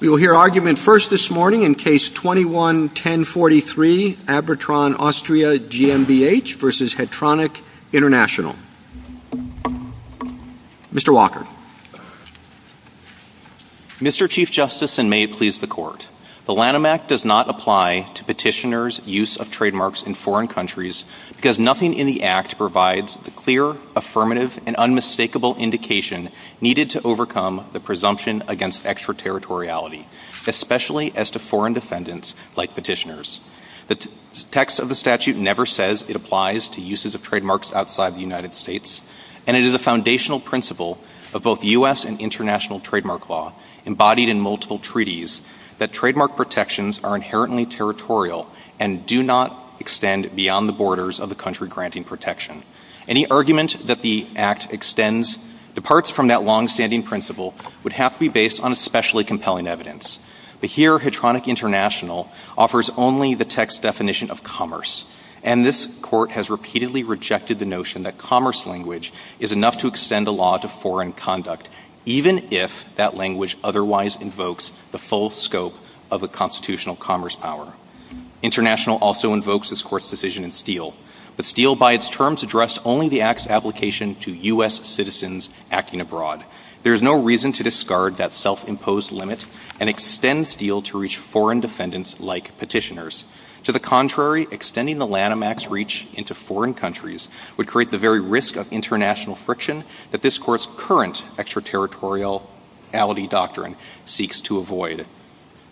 We will hear argument first this morning in Case 21-1043, Abitron Austria GmbH v. Hetronic International. Mr. Walker. Mr. Chief Justice, and may it please the Court, the Lanham Act does not apply to petitioners' use of trademarks in foreign countries because nothing in the Act provides the clear, affirmative, and unmistakable indication needed to overcome the presumption against extraterritoriality, especially as to foreign defendants like petitioners. The text of the statute never says it applies to uses of trademarks outside the United States, and it is a foundational principle of both U.S. and international trademark law, embodied in multiple treaties, that trademark protections are inherently territorial and do not extend beyond the borders of the country granting protection. Any argument that the Act departs from that long-standing principle would have to be based on especially compelling evidence. But here, Hetronic International offers only the text definition of commerce, and this Court has repeatedly rejected the notion that commerce language is enough to extend a law to foreign conduct, even if that language otherwise invokes the full scope of a constitutional commerce power. International also invokes this Court's decision in Steele, but Steele by its terms addressed only the Act's application to U.S. citizens acting abroad. There is no reason to discard that self-imposed limit and extend Steele to reach foreign defendants like petitioners. To the contrary, extending the Lanham Act's reach into foreign countries would create the very risk of international friction that this Court's current extraterritoriality doctrine seeks to avoid.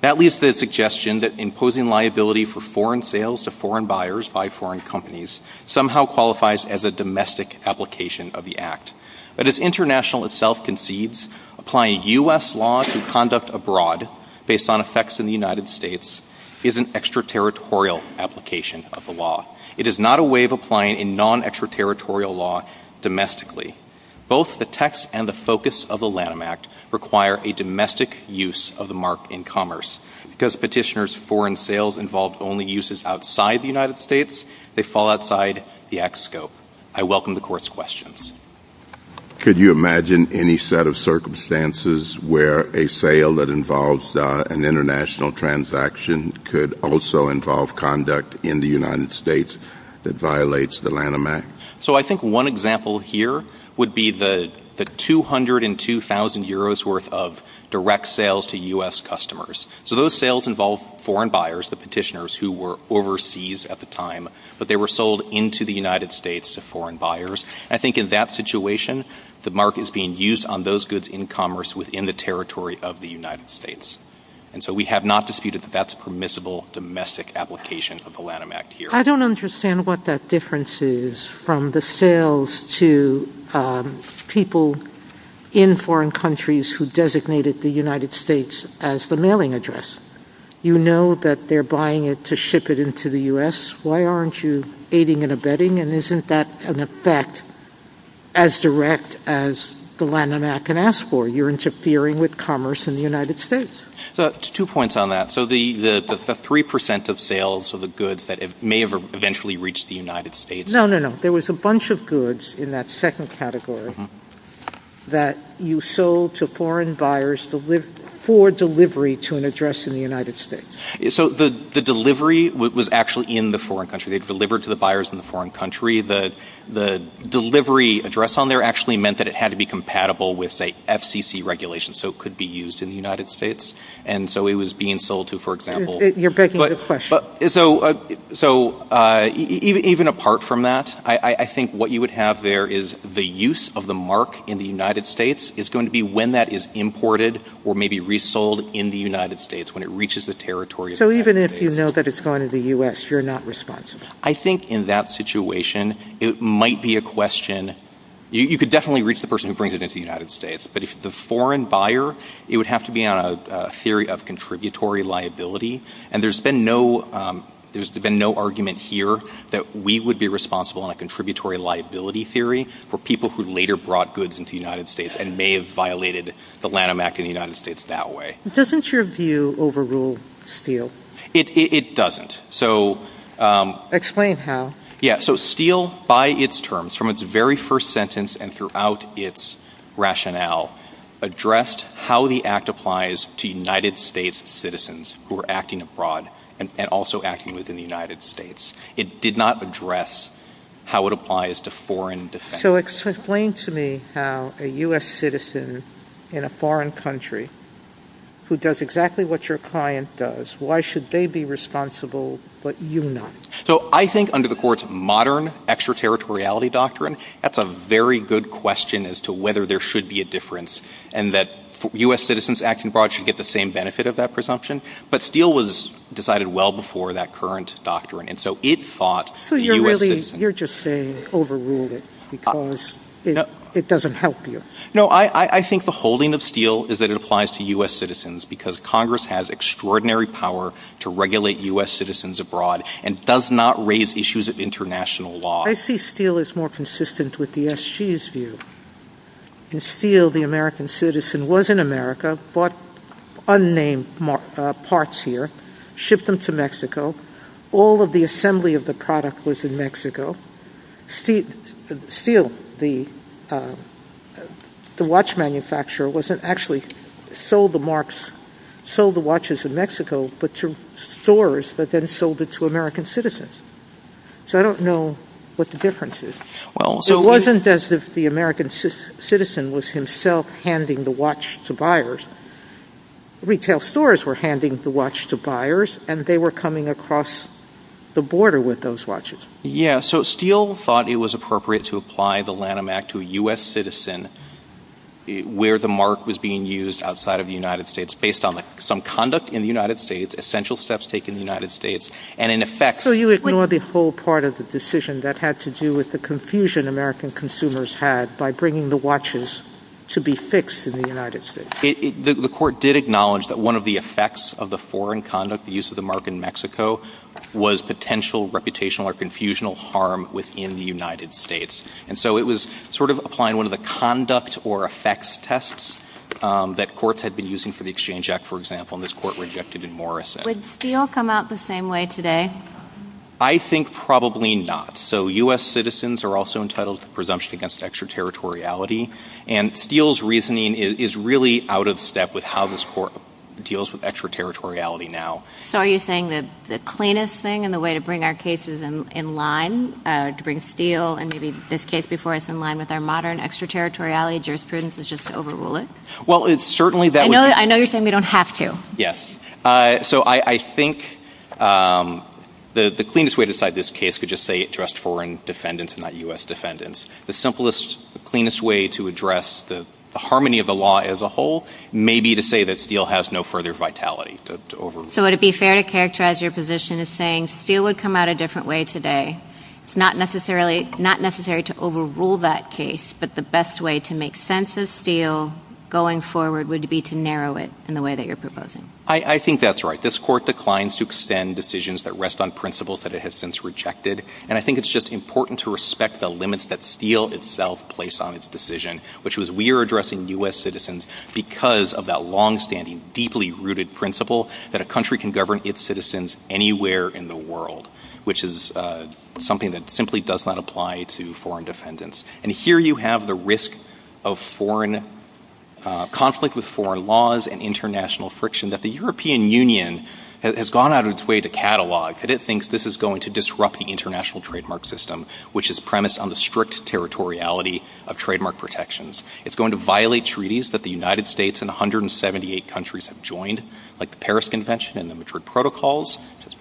That leaves the suggestion that imposing liability for foreign sales to foreign buyers by foreign companies somehow qualifies as a domestic application of the Act. But as International itself concedes, applying U.S. law to conduct abroad based on effects in the United States is an extraterritorial application of the law. It is not a way of applying a non-extraterritorial law domestically. Both the text and the focus of the Lanham Act require a domestic use of the mark in commerce. Because petitioners' foreign sales involve only uses outside the United States, they fall outside the Act's scope. I welcome the Court's questions. Could you imagine any set of circumstances where a sale that involves an international transaction could also involve conduct in the United States that violates the Lanham Act? So I think one example here would be the 202,000 euros worth of direct sales to U.S. customers. So those sales involve foreign buyers, the petitioners who were overseas at the time, but they were sold into the United States to foreign buyers. I think in that situation, the mark is being used on those goods in commerce within the territory of the United States. And so we have not disputed that that's a permissible domestic application of the Lanham Act here. I don't understand what that difference is from the sales to people in foreign countries who designated the United States as the mailing address. You know that they're buying it to ship it into the U.S. Why aren't you aiding and abetting? And isn't that an effect as direct as the Lanham Act can ask for? You're interfering with commerce in the United States. Two points on that. So the 3% of sales are the goods that may have eventually reached the United States. No, no, no. There was a bunch of goods in that second category that you sold to foreign buyers for delivery to an address in the United States. So the delivery was actually in the foreign country. They delivered to the buyers in the foreign country. The delivery address on there actually meant that it had to be compatible with, say, FCC regulations so it could be used in the United States. And so it was being sold to, for example— You're begging the question. So even apart from that, I think what you would have there is the use of the mark in the United States is going to be when that is imported or maybe resold in the United States when it reaches the territory. So even if you know that it's gone to the U.S., you're not responsible? I think in that situation, it might be a question— you could definitely reach the person who brings it into the United States, but if it's a foreign buyer, it would have to be on a theory of contributory liability. And there's been no argument here that we would be responsible on a contributory liability theory for people who later brought goods into the United States and may have violated the Lanham Act in the United States that way. Doesn't your view overrule Steele? It doesn't. Explain how. So Steele, by its terms, from its very first sentence and throughout its rationale, addressed how the Act applies to United States citizens who are acting abroad and also acting within the United States. It did not address how it applies to foreign defenders. So explain to me how a U.S. citizen in a foreign country who does exactly what your client does, why should they be responsible but you not? So I think under the Court's modern extraterritoriality doctrine, that's a very good question as to whether there should be a difference and that U.S. citizens acting abroad should get the same benefit of that presumption. But Steele was decided well before that current doctrine. So you're just saying it overruled it because it doesn't help you. No, I think the holding of Steele is that it applies to U.S. citizens because Congress has extraordinary power to regulate U.S. citizens abroad and does not raise issues of international law. I see Steele as more consistent with the SG's view. In Steele, the American citizen was in America, bought unnamed parts here, shipped them to Mexico. All of the assembly of the product was in Mexico. Steele, the watch manufacturer, wasn't actually sold the watches in Mexico but to stores that then sold it to American citizens. So I don't know what the difference is. It wasn't as if the American citizen was himself handing the watch to buyers. Retail stores were handing the watch to buyers and they were coming across the border with those watches. Yeah, so Steele thought it was appropriate to apply the Lanham Act to a U.S. citizen where the mark was being used outside of the United States based on some conduct in the United States, essential steps taken in the United States, and in effect... So you ignore the whole part of the decision that had to do with the confusion American consumers had by bringing the watches to be fixed in the United States. The court did acknowledge that one of the effects of the foreign conduct, the use of the mark in Mexico, was potential reputational or confusional harm within the United States. And so it was sort of applying one of the conduct or effects tests that courts had been using for the Exchange Act, for example, and this court rejected it more. Would Steele come out the same way today? I think probably not. So U.S. citizens are also entitled to presumption against extraterritoriality and Steele's reasoning is really out of step with how this court deals with extraterritoriality now. So are you saying that the cleanest thing and the way to bring our cases in line, to bring Steele and maybe this case before us in line with our modern extraterritoriality jurisprudence is just to overrule it? Well, it's certainly... I know you're saying we don't have to. Yes. So I think the cleanest way to decide this case could just say it addressed foreign defendants and not U.S. defendants. The simplest, cleanest way to address the harmony of the law as a whole may be to say that Steele has no further vitality to overrule. So would it be fair to characterize your position as saying Steele would come out a different way today? It's not necessary to overrule that case, but the best way to make sense of Steele going forward would be to narrow it in the way that you're proposing. I think that's right. This court declines to extend decisions that rest on principles that it has since rejected, and I think it's just important to respect the limits that Steele itself placed on its decision, which was we are addressing U.S. citizens because of that longstanding, deeply rooted principle that a country can govern its citizens anywhere in the world, which is something that simply does not apply to foreign defendants. And here you have the risk of conflict with foreign laws and international friction that the European Union has gone out of its way to catalog, and it thinks this is going to disrupt the international trademark system, which is premised on the strict territoriality of trademark protections. It's going to violate treaties that the United States and 178 countries have joined, like the Paris Convention and the Madrid Protocols.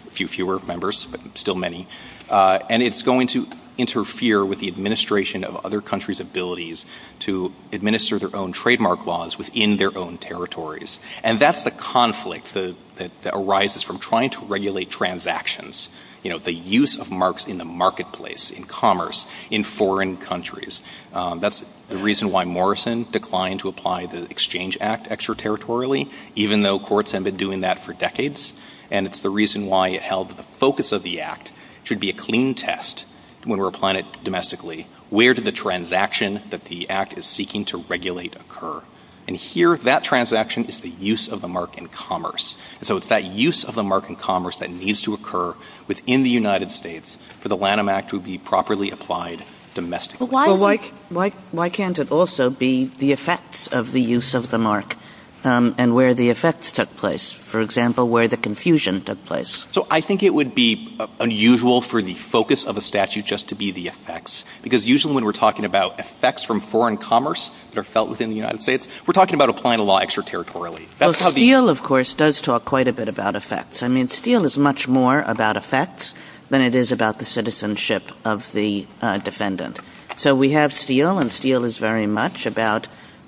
A few fewer members, but still many. And it's going to interfere with the administration of other countries' abilities to administer their own trademark laws within their own territories. And that's the conflict that arises from trying to regulate transactions, the use of marks in the marketplace, in commerce, in foreign countries. That's the reason why Morrison declined to apply the Exchange Act extraterritorially, even though courts have been doing that for decades, and it's the reason why it held that the focus of the Act should be a clean test when we're applying it domestically. Where did the transaction that the Act is seeking to regulate occur? And here, that transaction is the use of the mark in commerce. So it's that use of the mark in commerce that needs to occur within the United States for the Lanham Act to be properly applied domestically. Why can't it also be the effects of the use of the mark and where the effects took place? For example, where the confusion took place. So I think it would be unusual for the focus of a statute just to be the effects, because usually when we're talking about effects from foreign commerce that are felt within the United States, we're talking about applying the law extraterritorially. Well, Steele, of course, does talk quite a bit about effects. I mean, Steele is much more about effects than it is about the citizenship of the defendant. So we have Steele, and Steele is very much about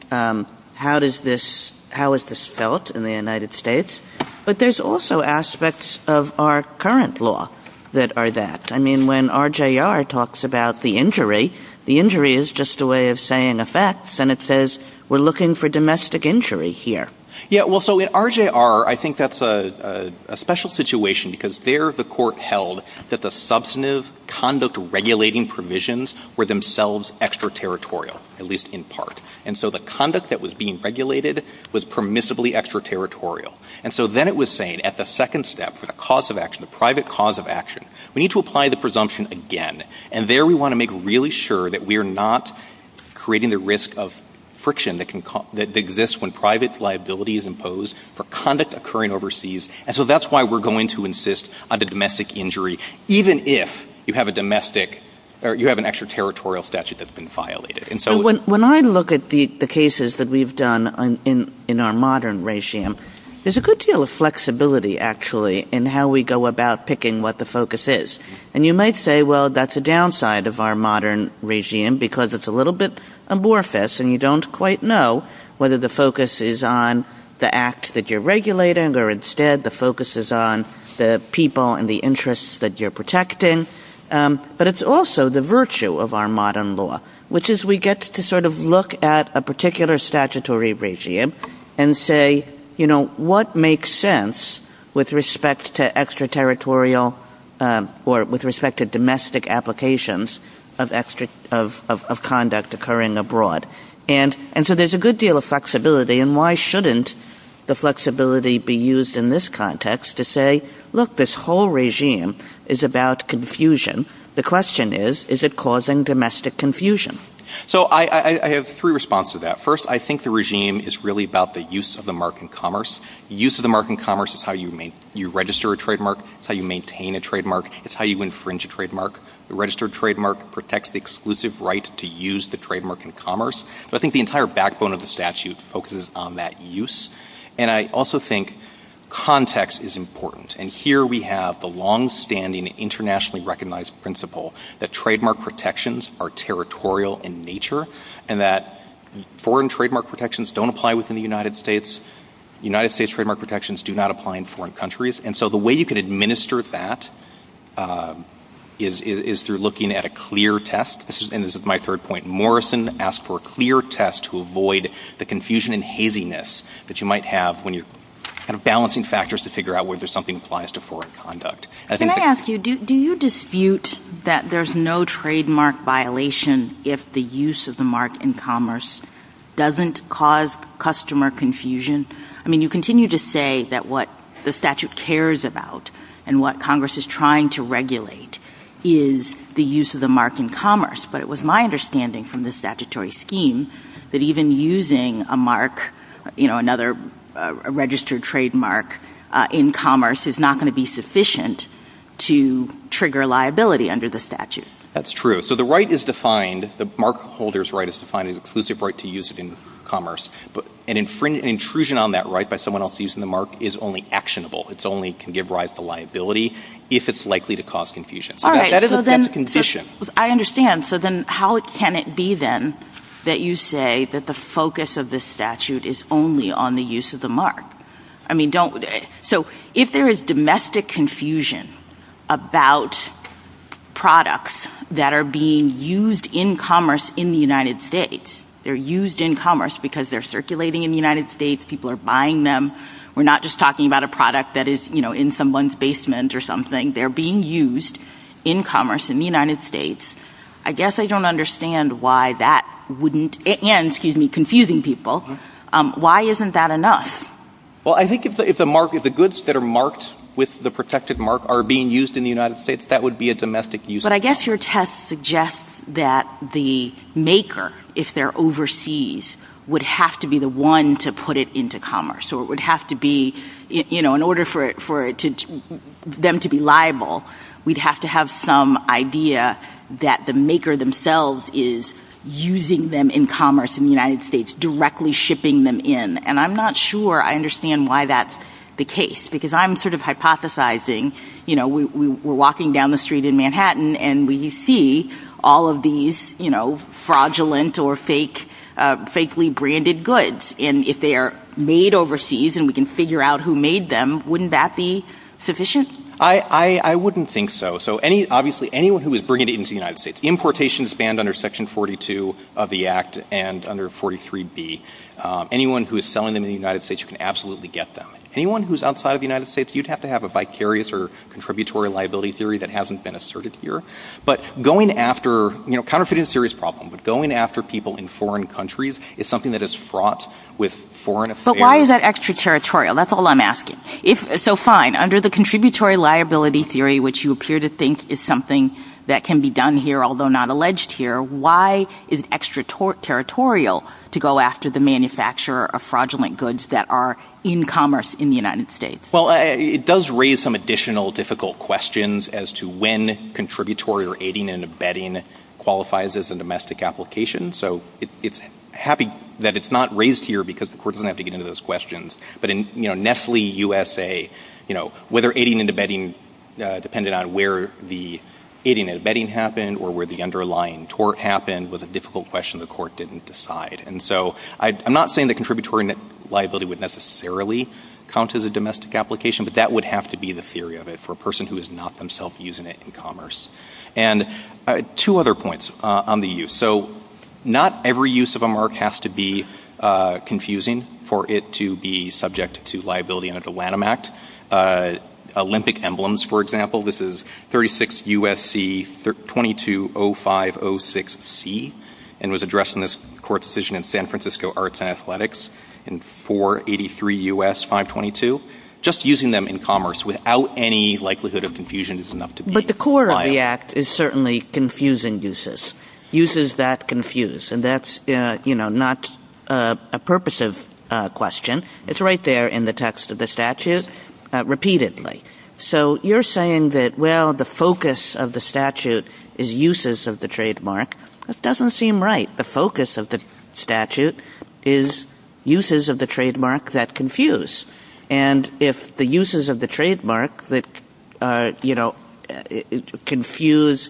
how is this felt in the United States. But there's also aspects of our current law that are that. I mean, when RJR talks about the injury, the injury is just a way of saying effects, and it says we're looking for domestic injury here. Yeah, well, so at RJR, I think that's a special situation because there the court held that the substantive conduct regulating provisions were themselves extraterritorial, at least in part. And so the conduct that was being regulated was permissibly extraterritorial. And so then it was saying at the second step for the cause of action, the private cause of action, we need to apply the presumption again. And there we want to make really sure that we are not creating the risk of friction that exists when private liability is imposed for conduct occurring overseas. And so that's why we're going to insist on the domestic injury, even if you have an extraterritorial statute that's been violated. When I look at the cases that we've done in our modern regime, there's a good deal of flexibility, actually, in how we go about picking what the focus is. And you might say, well, that's a downside of our modern regime because it's a little bit amorphous, and you don't quite know whether the focus is on the act that you're regulating or instead the focus is on the people and the interests that you're protecting. But it's also the virtue of our modern law, which is we get to sort of look at a particular statutory regime and say, you know, what makes sense with respect to extraterritorial or with respect to domestic applications of conduct occurring abroad? And so there's a good deal of flexibility, and why shouldn't the flexibility be used in this context to say, look, this whole regime is about confusion. The question is, is it causing domestic confusion? So I have three responses to that. First, I think the regime is really about the use of the mark in commerce. The use of the mark in commerce is how you register a trademark. It's how you maintain a trademark. It's how you infringe a trademark. The registered trademark protects the exclusive right to use the trademark in commerce. But I think the entire backbone of the statute focuses on that use. And I also think context is important. And here we have the longstanding internationally recognized principle that trademark protections are territorial in nature and that foreign trademark protections don't apply within the United States. United States trademark protections do not apply in foreign countries. And so the way you can administer that is through looking at a clear test. And this is my third point. Morrison asked for a clear test to avoid the confusion and haziness that you might have when you're balancing factors to figure out whether something applies to foreign conduct. Can I ask you, do you dispute that there's no trademark violation if the use of the mark in commerce doesn't cause customer confusion? I mean, you continue to say that what the statute cares about and what Congress is trying to regulate is the use of the mark in commerce. But it was my understanding from the statutory scheme that even using a mark, you know, another registered trademark in commerce is not going to be sufficient to trigger liability under the statute. That's true. So the right is defined, the mark holder's right is defined as an exclusive right to use it in commerce. But an intrusion on that right by someone else using the mark is only actionable. It only can give rise to liability if it's likely to cause confusion. All right, so then... That's a condition. I understand. So then how can it be, then, that you say that the focus of this statute is only on the use of the mark? I mean, don't... So if there is domestic confusion about products that are being used in commerce in the United States, they're used in commerce because they're circulating in the United States, people are buying them. We're not just talking about a product that is, you know, in someone's basement or something. They're being used in commerce in the United States. I guess I don't understand why that wouldn't... And, excuse me, confusing people. Why isn't that enough? Well, I think if the goods that are marked with the protected mark are being used in the United States, that would be a domestic use. But I guess your test suggests that the maker, if they're overseas, would have to be the one to put it into commerce. So it would have to be, you know, in order for them to be liable, we'd have to have some idea that the maker themselves is using them in commerce in the United States, directly shipping them in. And I'm not sure I understand why that's the case because I'm sort of hypothesizing, you know, we're walking down the street in Manhattan and we see all of these, you know, fraudulent or fake, fakely branded goods. And if they are made overseas and we can figure out who made them, wouldn't that be sufficient? I wouldn't think so. So, obviously, anyone who is bringing it into the United States, importation is banned under Section 42 of the Act and under 43B. Anyone who is selling them in the United States, you can absolutely get them. Anyone who is outside of the United States, you'd have to have a vicarious or contributory liability theory that hasn't been asserted here. But going after, you know, counterfeiting is a serious problem, but going after people in foreign countries is something that is fraught with foreign affairs. But why is that extraterritorial? That's all I'm asking. So, fine, under the contributory liability theory, which you appear to think is something that can be done here, although not alleged here, why is it extraterritorial to go after the manufacturer of fraudulent goods that are in commerce in the United States? Well, it does raise some additional difficult questions as to when contributory or aiding and abetting qualifies as a domestic application. So, it's happy that it's not raised here because the court doesn't have to get into those questions. But in, you know, Nestle USA, you know, whether aiding and abetting depended on where the aiding and abetting happened or where the underlying tort happened was a difficult question the court didn't decide. And so, I'm not saying that contributory liability would necessarily count as a domestic application, but that would have to be the theory of it for a person who is not themself using it in commerce. And two other points on the use. So, not every use of a mark has to be confusing for it to be subject to liability under the Lanham Act. Olympic emblems, for example. This is 36 U.S.C. 220506C and was addressed in this court decision in San Francisco Arts and Athletics in 483 U.S. 522. Just using them in commerce without any likelihood of confusion is enough to be liable. But the core of the Act is certainly confusing uses. Uses that confuse. And that's, you know, not a purposive question. It's right there in the text of the statute repeatedly. So, you're saying that, well, the focus of the statute is uses of the trademark. That doesn't seem right. The focus of the statute is uses of the trademark that confuse. And if the uses of the trademark that, you know, confuse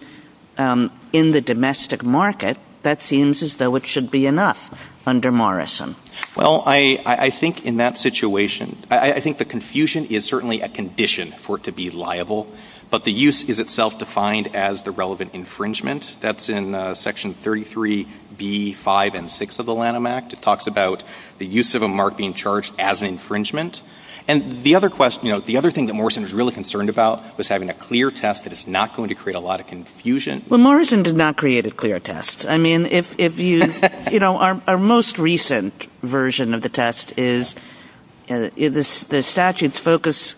in the domestic market, that seems as though it should be enough under Morrison. Well, I think in that situation, I think the confusion is certainly a condition for it to be liable. But the use is itself defined as the relevant infringement. That's in Section 33B, 5, and 6 of the Lanham Act. It talks about the use of a mark being charged as an infringement. And the other question, you know, the other thing that Morrison was really concerned about was having a clear test that is not going to create a lot of confusion. Well, Morrison did not create a clear test. I mean, if you, you know, our most recent version of the test is the statute's focus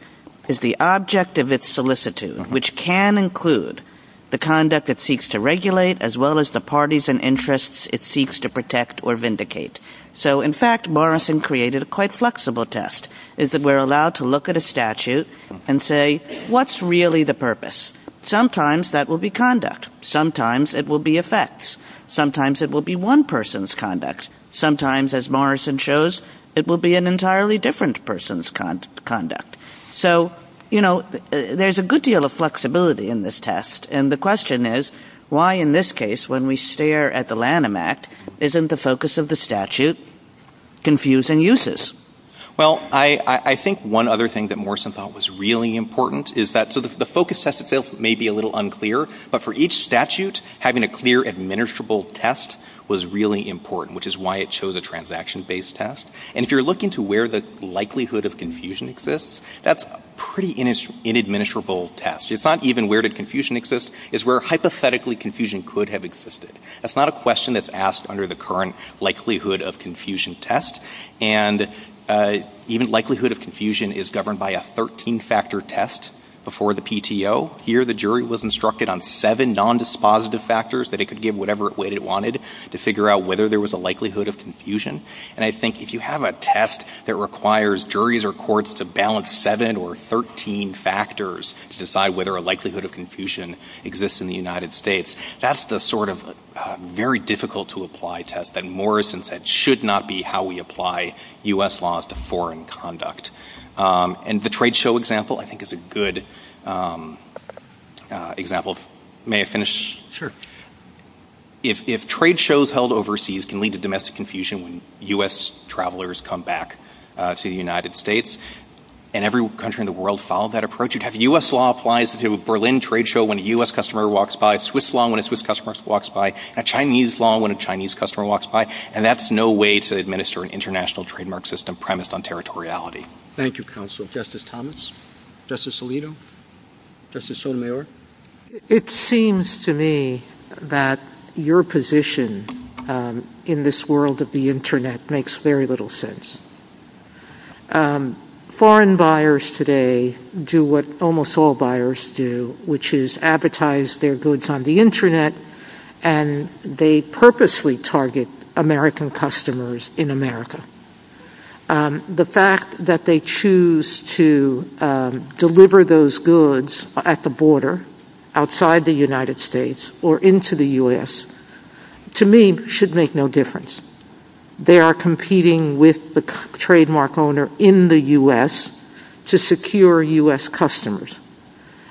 is the object of its solicitude, which can include the conduct it seeks to regulate as well as the parties and interests it seeks to protect or vindicate. So in fact, Morrison created a quite flexible test is that we're allowed to look at a statute and say, what's really the purpose? Sometimes that will be conduct. Sometimes it will be effects. Sometimes it will be one person's conduct. Sometimes, as Morrison shows, it will be an entirely different person's conduct. So, you know, there's a good deal of flexibility in this test. And the question is, why in this case, when we stare at the Lanham Act, isn't the focus of the statute confusing uses? Well, I think one other thing that Morrison thought was really important is that the focus test itself may be a little unclear, but for each statute, having a clear administrable test was really important, which is why it chose a transaction-based test. And if you're looking to where the likelihood of confusion exists, that's a pretty inadministrable test. It's not even where did confusion exist. It's where hypothetically confusion could have existed. That's not a question that's asked under the current likelihood of confusion test. And even likelihood of confusion is governed by a 13-factor test before the PTO. Here, the jury was instructed on seven nondispositive factors that it could give whatever weight it wanted to figure out whether there was a likelihood of confusion. And I think if you have a test that requires juries or courts to balance seven or 13 factors to decide whether a likelihood of confusion exists in the United States, that's the sort of very difficult-to-apply test that Morrison said should not be how we apply U.S. laws to foreign conduct. And the trade show example, I think, is a good example. May I finish? Sure. If trade shows held overseas can lead to domestic confusion when U.S. travelers come back to the United States and every country in the world followed that approach, you'd have U.S. law applies to a Berlin trade show when a U.S. customer walks by, Swiss law when a Swiss customer walks by, and Chinese law when a Chinese customer walks by, and that's no way to administer an international trademark system premised on territoriality. Thank you, Counsel. Justice Thomas? Justice Alito? Justice Sotomayor? It seems to me that your position in this world of the Internet makes very little sense. Foreign buyers today do what almost all buyers do, which is advertise their goods on the Internet, and they purposely target American customers in America. The fact that they choose to deliver those goods at the border outside the United States or into the U.S. to me should make no difference. They are competing with the trademark owner in the U.S. to secure U.S. customers.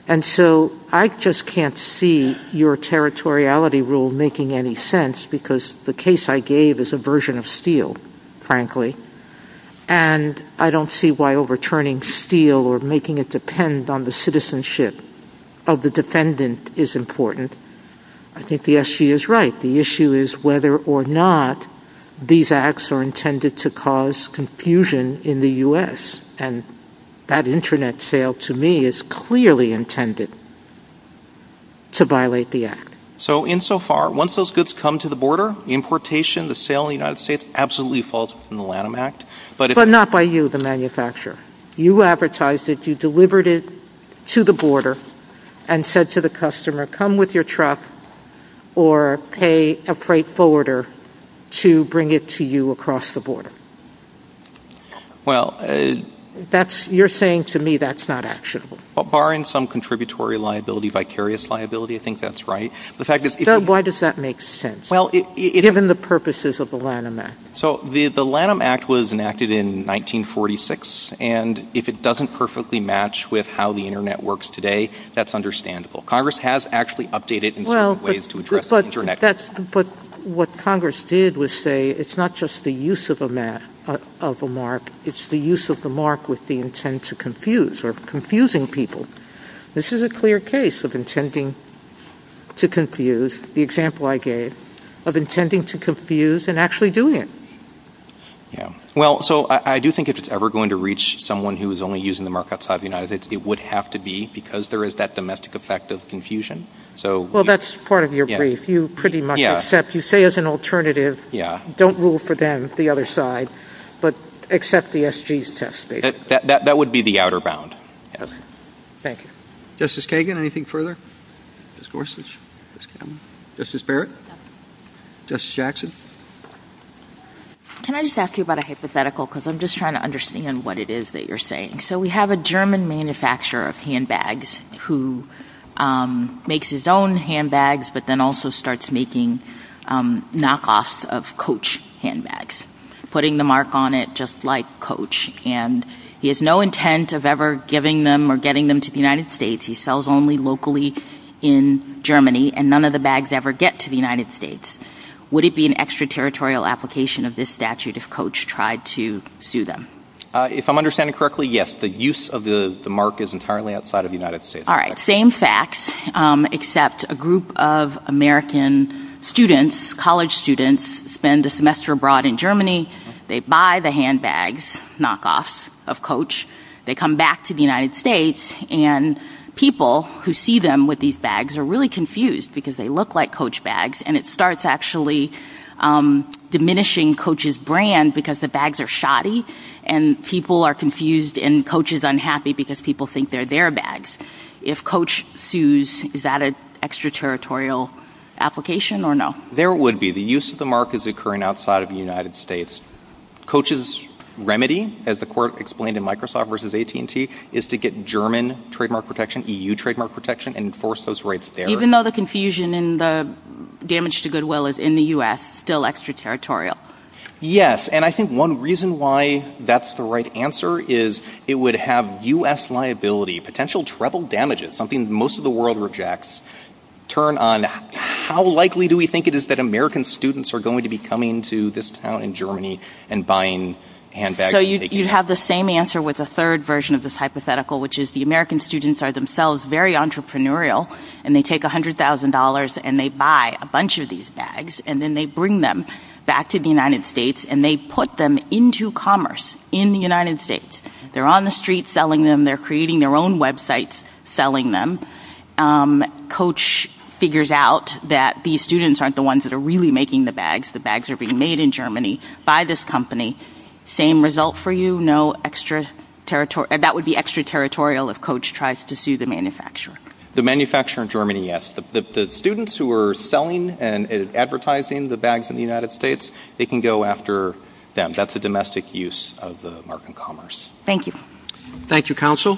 And so I just can't see your territoriality rule making any sense because the case I gave is a version of Steele, frankly, and I don't see why overturning Steele or making it depend on the citizenship of the defendant is important. I think the SG is right. The issue is whether or not these acts are intended to cause confusion in the U.S., and that Internet sale to me is clearly intended to violate the act. So insofar, once those goods come to the border, the importation, the sale in the United States absolutely falls within the Lanham Act. But not by you, the manufacturer. You advertised it. You delivered it to the border and said to the customer, come with your truck or pay a freight forwarder to bring it to you across the border. You're saying to me that's not actionable. Well, barring some contributory liability, vicarious liability, I think that's right. Why does that make sense, given the purposes of the Lanham Act? So the Lanham Act was enacted in 1946, and if it doesn't perfectly match with how the Internet works today, that's understandable. Congress has actually updated it in certain ways to address the Internet. But what Congress did was say it's not just the use of a mark, it's the use of the mark with the intent to confuse or confusing people. This is a clear case of intending to confuse, the example I gave, of intending to confuse and actually doing it. Yeah. Well, so I do think if it's ever going to reach someone who is only using the mark outside the United States, it would have to be because there is that domestic effect of confusion. Well, that's part of your brief. You pretty much accept. You say as an alternative, don't rule for them, the other side, but accept the SG's test data. That would be the outer bound. Thank you. Justice Kagan, anything further? Justice Gorsuch? Justice Barrett? Justice Jackson? Can I just ask you about a hypothetical, because I'm just trying to understand what it is that you're saying. So we have a German manufacturer of handbags who makes his own handbags, but then also starts making knockoffs of Coach handbags, putting the mark on it just like Coach, and he has no intent of ever giving them or getting them to the United States. He sells only locally in Germany, and none of the bags ever get to the United States. Would it be an extraterritorial application of this statute if Coach tried to sue them? If I'm understanding correctly, yes. The use of the mark is entirely outside of the United States. All right. Same facts, except a group of American students, college students, spend a semester abroad in Germany. They buy the handbags, knockoffs of Coach. They come back to the United States, and people who see them with these bags are really confused because they look like Coach bags, and it starts actually diminishing Coach's brand because the bags are shoddy, and people are confused and Coach is unhappy because people think they're their bags. If Coach sues, is that an extraterritorial application or no? There would be. The use of the mark is occurring outside of the United States. Coach's remedy, as the court explained in Microsoft v. AT&T, is to get German trademark protection, EU trademark protection, and enforce those rights there. Even though the confusion and the damage to goodwill is in the U.S., still extraterritorial? Yes, and I think one reason why that's the right answer is it would have U.S. liability, potential treble damages, something most of the world rejects, How likely do we think it is that American students are going to be coming to this town in Germany and buying handbags? You have the same answer with a third version of this hypothetical, which is the American students are themselves very entrepreneurial, and they take $100,000 and they buy a bunch of these bags, and then they bring them back to the United States, and they put them into commerce in the United States. They're on the street selling them. They're creating their own websites selling them. Coach figures out that these students aren't the ones that are really making the bags. The bags are being made in Germany by this company. Same result for you? No extraterritorial? That would be extraterritorial if Coach tries to sue the manufacturer. The manufacturer in Germany, yes. The students who are selling and advertising the bags in the United States, they can go after them. That's a domestic use of the market commerce. Thank you. Thank you, Counsel.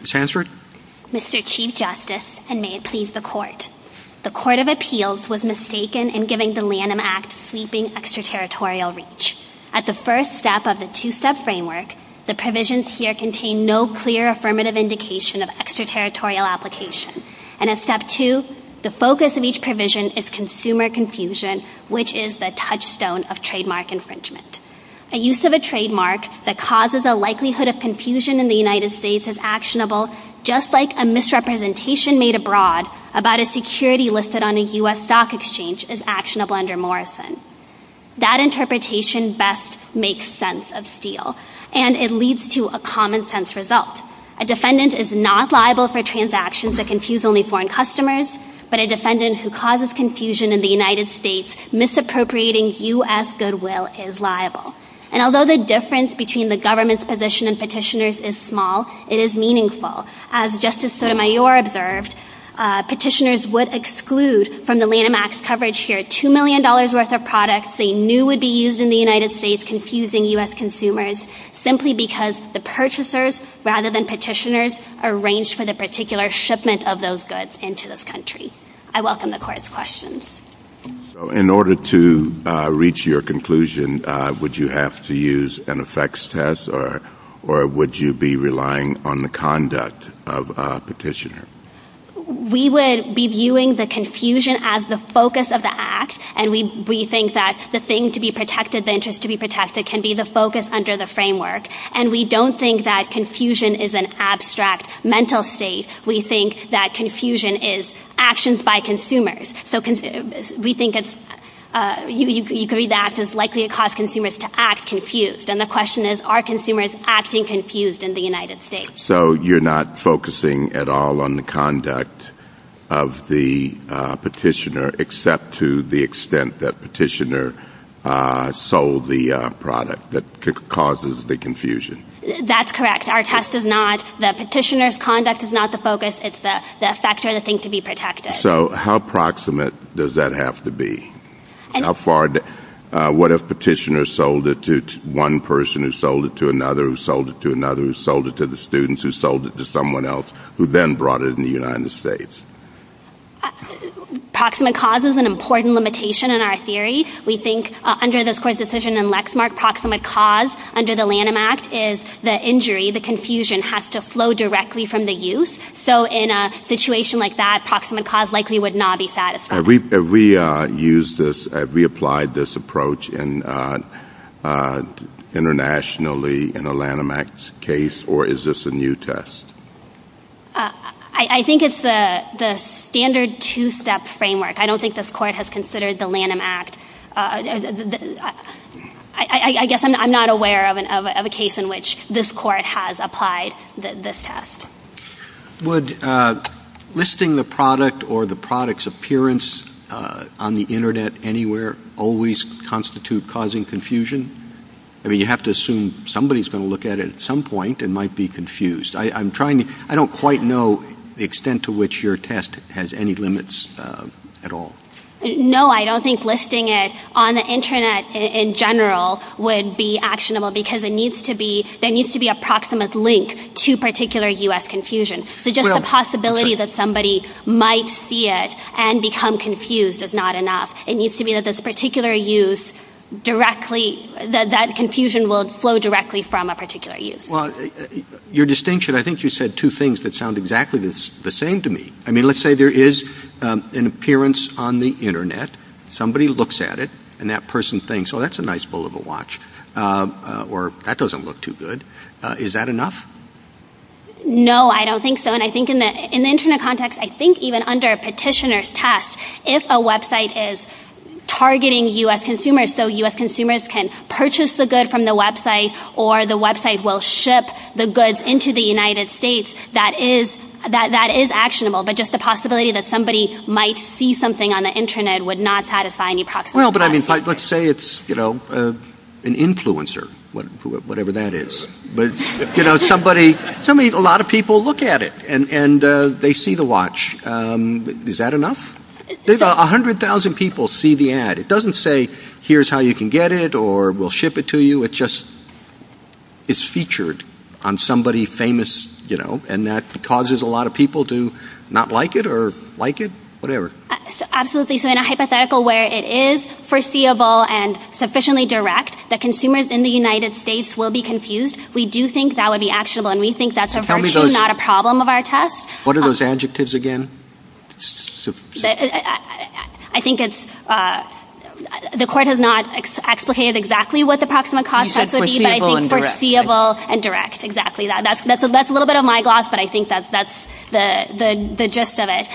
Ms. Hansford? Mr. Chief Justice, and may it please the Court, the Court of Appeals was mistaken in giving the Lanham Act sweeping extraterritorial reach. At the first step of the two-step framework, the provisions here contain no clear affirmative indication of extraterritorial application. And at step two, the focus of each provision is consumer confusion, which is the touchstone of trademark infringement. A use of a trademark that causes a likelihood of confusion in the United States is actionable, just like a misrepresentation made abroad about a security listed on a U.S. stock exchange is actionable under Morrison. That interpretation best makes sense of Steele, and it leads to a common-sense result. A defendant is not liable for transactions that confuse only foreign customers, but a defendant who causes confusion in the United States, misappropriating U.S. goodwill is liable. And although the difference between the government's position and petitioners' is small, it is meaningful. As Justice Sotomayor observed, petitioners would exclude from the Lanham Act's coverage here $2 million worth of products they knew would be used in the United States confusing U.S. consumers, simply because the purchasers, rather than petitioners, arranged for the particular shipment of those goods into this country. I welcome the Court's questions. In order to reach your conclusion, would you have to use an effects test, or would you be relying on the conduct of a petitioner? We would be viewing the confusion as the focus of the act, and we think that the thing to be protected, the interest to be protested, can be the focus under the framework. And we don't think that confusion is an abstract mental state. We think that confusion is actions by consumers. We think it's likely to cause consumers to act confused. And the question is, are consumers acting confused in the United States? So you're not focusing at all on the conduct of the petitioner, except to the extent that petitioner sold the product that causes the confusion? That's correct. Our test is not that petitioner's conduct is not the focus. It's the factor and the thing to be protected. So how proximate does that have to be? What if petitioner sold it to one person who sold it to another who sold it to another who sold it to the students who sold it to someone else who then brought it in the United States? Proximate cause is an important limitation in our theory. We think under this Court's decision in Lexmark, proximate cause under the Lanham Act is the injury, the confusion, has to flow directly from the use. So in a situation like that, proximate cause likely would not be satisfactory. Have we applied this approach internationally in the Lanham Act case, or is this a new test? I think it's the standard two-step framework. I don't think this Court has considered the Lanham Act. I guess I'm not aware of a case in which this Court has applied this test. Would listing the product or the product's appearance on the Internet anywhere always constitute causing confusion? I mean, you have to assume somebody's going to look at it at some point and might be confused. I don't quite know the extent to which your test has any limits at all. No, I don't think listing it on the Internet in general would be actionable because there needs to be a proximate link to particular U.S. confusion. So just the possibility that somebody might see it and become confused is not enough. It needs to be that that confusion will flow directly from a particular use. Your distinction, I think you said two things that sound exactly the same to me. I mean, let's say there is an appearance on the Internet. Somebody looks at it, and that person thinks, oh, that's a nice bowl of a watch, or that doesn't look too good. Is that enough? No, I don't think so. And I think in the Internet context, I think even under a petitioner's test, if a website is targeting U.S. consumers so U.S. consumers can purchase the good from the website or the website will ship the goods into the United States, that is actionable. But just the possibility that somebody might see something on the Internet would not satisfy any practical requirements. Well, but let's say it's an influencer, whatever that is. But a lot of people look at it, and they see the watch. Is that enough? 100,000 people see the ad. It doesn't say, here's how you can get it, or we'll ship it to you. So it just is featured on somebody famous, you know, and that causes a lot of people to not like it or like it, whatever. Absolutely. So in a hypothetical where it is foreseeable and sufficiently direct that consumers in the United States will be confused, we do think that would be actionable, and we think that's not a problem of our test. What are those adjectives again? I think it's the court has not explicated exactly what the approximate cost is. You said foreseeable and direct. Foreseeable and direct, exactly. That's a little bit of my gloss, but I think that's the gist of it.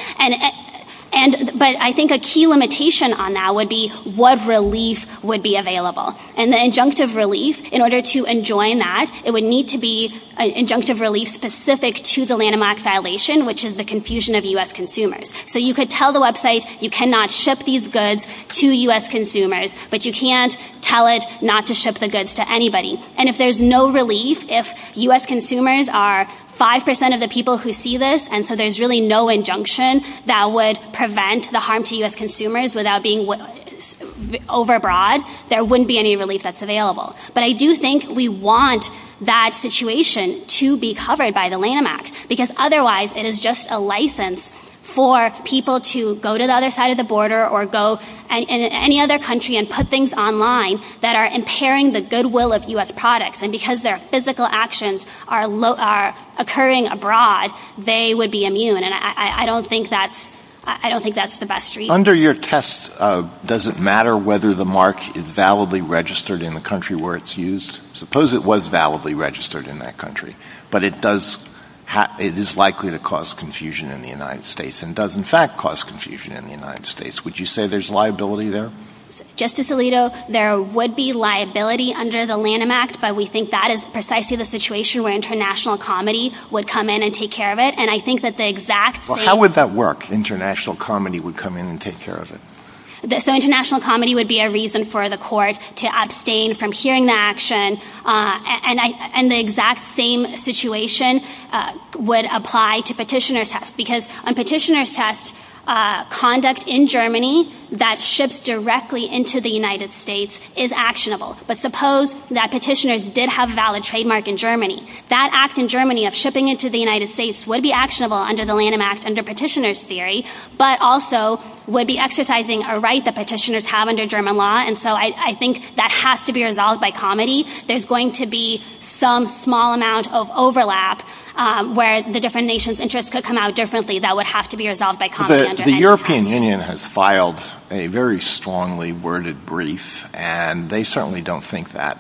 But I think a key limitation on that would be what relief would be available. And the injunctive relief, in order to enjoin that, it would need to be an injunctive relief specific to the landmark violation, which is the confusion of U.S. consumers. So you could tell the website you cannot ship these goods to U.S. consumers, but you can't tell it not to ship the goods to anybody. And if there's no relief, if U.S. consumers are 5% of the people who see this, and so there's really no injunction that would prevent the harm to U.S. consumers without being overbroad, there wouldn't be any relief that's available. But I do think we want that situation to be covered by the landmark, because otherwise it is just a license for people to go to the other side of the border or go in any other country and put things online that are impairing the goodwill of U.S. products. And because their physical actions are occurring abroad, they would be immune. And I don't think that's the best treatment. Under your test, does it matter whether the mark is validly registered in the country where it's used? Suppose it was validly registered in that country, but it is likely to cause confusion in the United States, and does in fact cause confusion in the United States. Would you say there's liability there? Justice Alito, there would be liability under the Lanham Act, but we think that is precisely the situation where international comedy would come in and take care of it. How would that work, international comedy would come in and take care of it? International comedy would be a reason for the court to abstain from hearing the action, and the exact same situation would apply to petitioner's test, because on petitioner's test, conduct in Germany that ships directly into the United States is actionable. But suppose that petitioners did have a valid trademark in Germany. That act in Germany of shipping it to the United States would be actionable under the Lanham Act, under petitioner's theory, but also would be exercising a right that petitioners have under German law, and so I think that has to be resolved by comedy. There's going to be some small amount of overlap where the different nations' interests could come out differently. That would have to be resolved by comedy. The European Union has filed a very strongly worded brief, and they certainly don't think that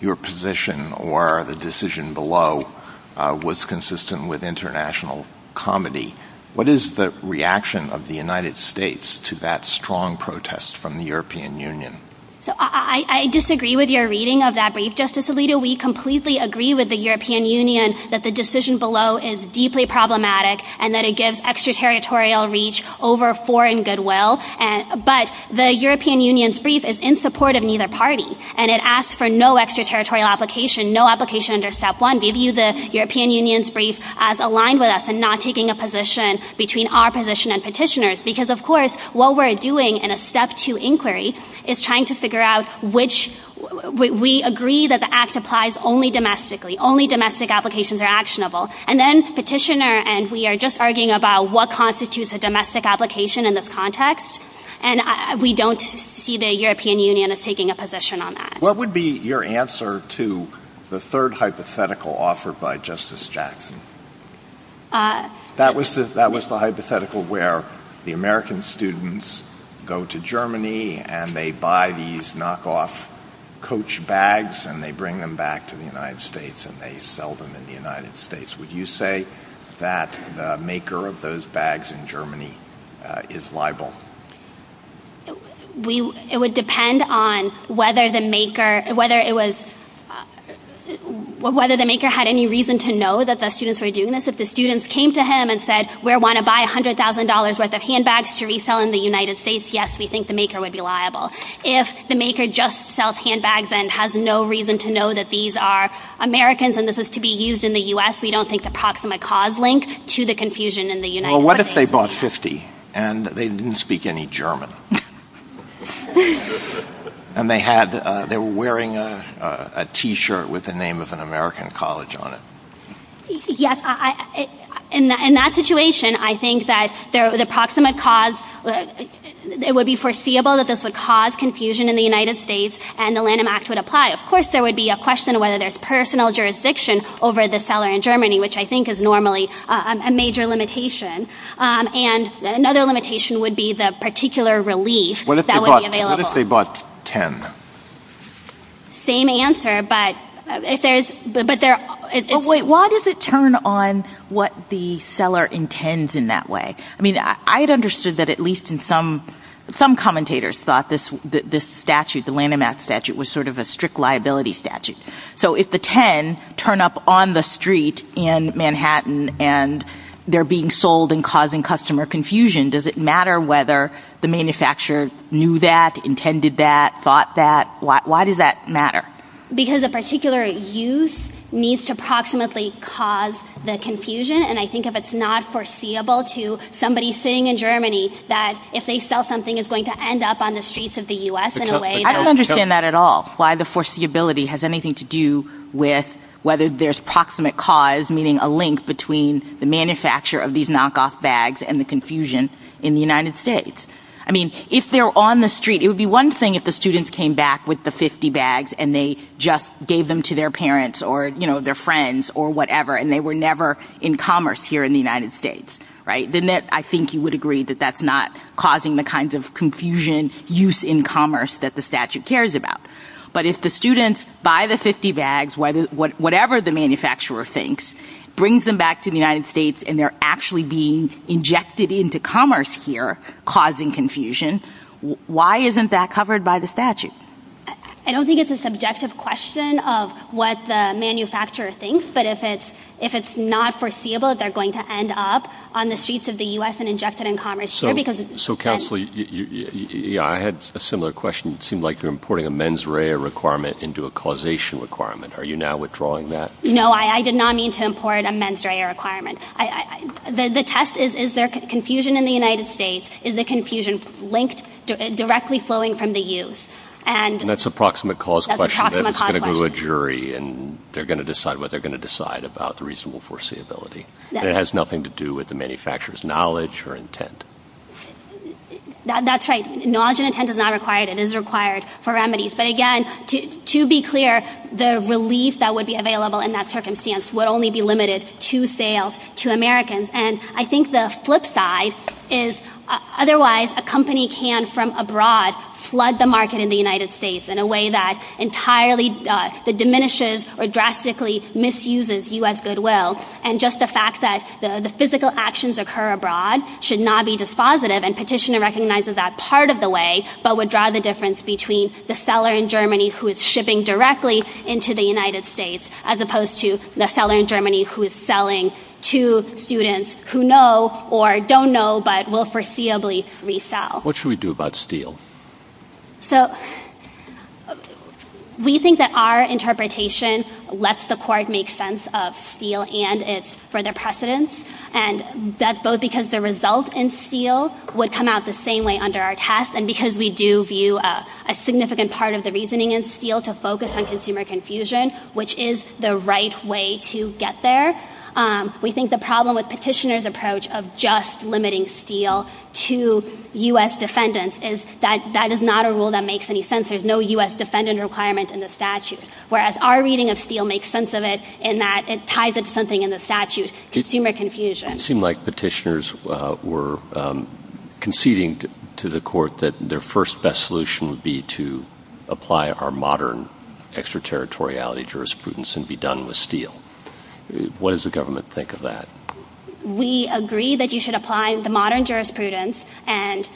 your position or the decision below was consistent with international comedy. What is the reaction of the United States to that strong protest from the European Union? I disagree with your reading of that brief, Justice Alito. We completely agree with the European Union that the decision below is deeply problematic, and that it gives extraterritorial reach over foreign goodwill, but the European Union's brief is in support of neither party, and it asks for no extraterritorial application, no application under step one. We view the European Union's brief as aligned with us in not taking a position between our position and petitioners, because of course what we're doing in a step two inquiry is trying to figure out which, we agree that the act applies only domestically, only domestic applications are actionable, and then petitioner, and we are just arguing about what constitutes a domestic application in this context, and we don't see the European Union as taking a position on that. What would be your answer to the third hypothetical offered by Justice Jackson? That was the hypothetical where the American students go to Germany, and they buy these knockoff coach bags, and they bring them back to the United States, and they sell them in the United States. Would you say that the maker of those bags in Germany is liable? It would depend on whether the maker had any reason to know that the students were doing this. If the students came to him and said, we want to buy $100,000 worth of handbags to resell in the United States, yes, we think the maker would be liable. If the maker just sells handbags and has no reason to know that these are Americans, and this is to be used in the U.S., we don't think the proximate cause links to the confusion in the United States. Well, what if they bought 50, and they didn't speak any German, and they were wearing a T-shirt with the name of an American college on it? Yes, in that situation, I think that the proximate cause would be foreseeable, that this would cause confusion in the United States, and the Lanham Act would apply. Of course, there would be a question of whether there's personal jurisdiction over the seller in Germany, which I think is normally a major limitation. And another limitation would be the particular relief that would be available. What if they bought 10? Same answer, but if there's – Wait, why does it turn on what the seller intends in that way? I mean, I had understood that at least some commentators thought this statute, the Lanham Act statute, was sort of a strict liability statute. So if the 10 turn up on the street in Manhattan, and they're being sold and causing customer confusion, does it matter whether the manufacturer knew that, intended that, thought that? Why does that matter? Because a particular use needs to proximately cause the confusion, and I think if it's not foreseeable to somebody sitting in Germany, that if they sell something, it's going to end up on the streets of the U.S. in a way. I don't understand that at all, why the foreseeability has anything to do with whether there's proximate cause, meaning a link between the manufacturer of these knockoff bags and the confusion in the United States. I mean, if they're on the street, it would be one thing if the students came back with the 50 bags, and they just gave them to their parents or, you know, their friends or whatever, and they were never in commerce here in the United States, right? Then I think you would agree that that's not causing the kinds of confusion use in commerce that the statute cares about. But if the students buy the 50 bags, whatever the manufacturer thinks, brings them back to the United States, and they're actually being injected into commerce here, causing confusion, why isn't that covered by the statute? I don't think it's a subjective question of what the manufacturer thinks, but if it's not foreseeable, they're going to end up on the streets of the U.S. and injected in commerce here. So, Counselor, I had a similar question. It seemed like you're importing a mens rea requirement into a causation requirement. Are you now withdrawing that? No, I did not mean to import a mens rea requirement. The test is, is there confusion in the United States? Is the confusion linked directly flowing from the use? And that's a proximate cause question. It's going to go to a jury, and they're going to decide what they're going to decide about the reasonable foreseeability. It has nothing to do with the manufacturer's knowledge or intent. That's right. Knowledge and intent is not required. It is required for remedies. But, again, to be clear, the relief that would be available in that circumstance would only be limited to sales to Americans. And I think the flip side is, otherwise, a company can, from abroad, flood the market in the United States in a way that entirely diminishes or drastically misuses U.S. goodwill. And just the fact that the physical actions occur abroad should not be dispositive, and Petitioner recognizes that part of the way, but would draw the difference between the seller in Germany who is shipping directly into the United States as opposed to the seller in Germany who is selling to students who know or don't know but will foreseeably resell. What should we do about steel? So we think that our interpretation lets the court make sense of steel and its further precedence, and that's both because the results in steel would come out the same way under our test and because we do view a significant part of the reasoning in steel to focus on consumer confusion, which is the right way to get there. We think the problem with Petitioner's approach of just limiting steel to U.S. defendants is that that is not a rule that makes any sense. There's no U.S. defendant requirement in the statute, whereas our reading of steel makes sense of it in that it ties into something in the statute, consumer confusion. It seemed like Petitioner's were conceding to the court that their first best solution would be to apply our modern extraterritoriality jurisprudence and be done with steel. What does the government think of that? We agree that you should apply the modern jurisprudence, and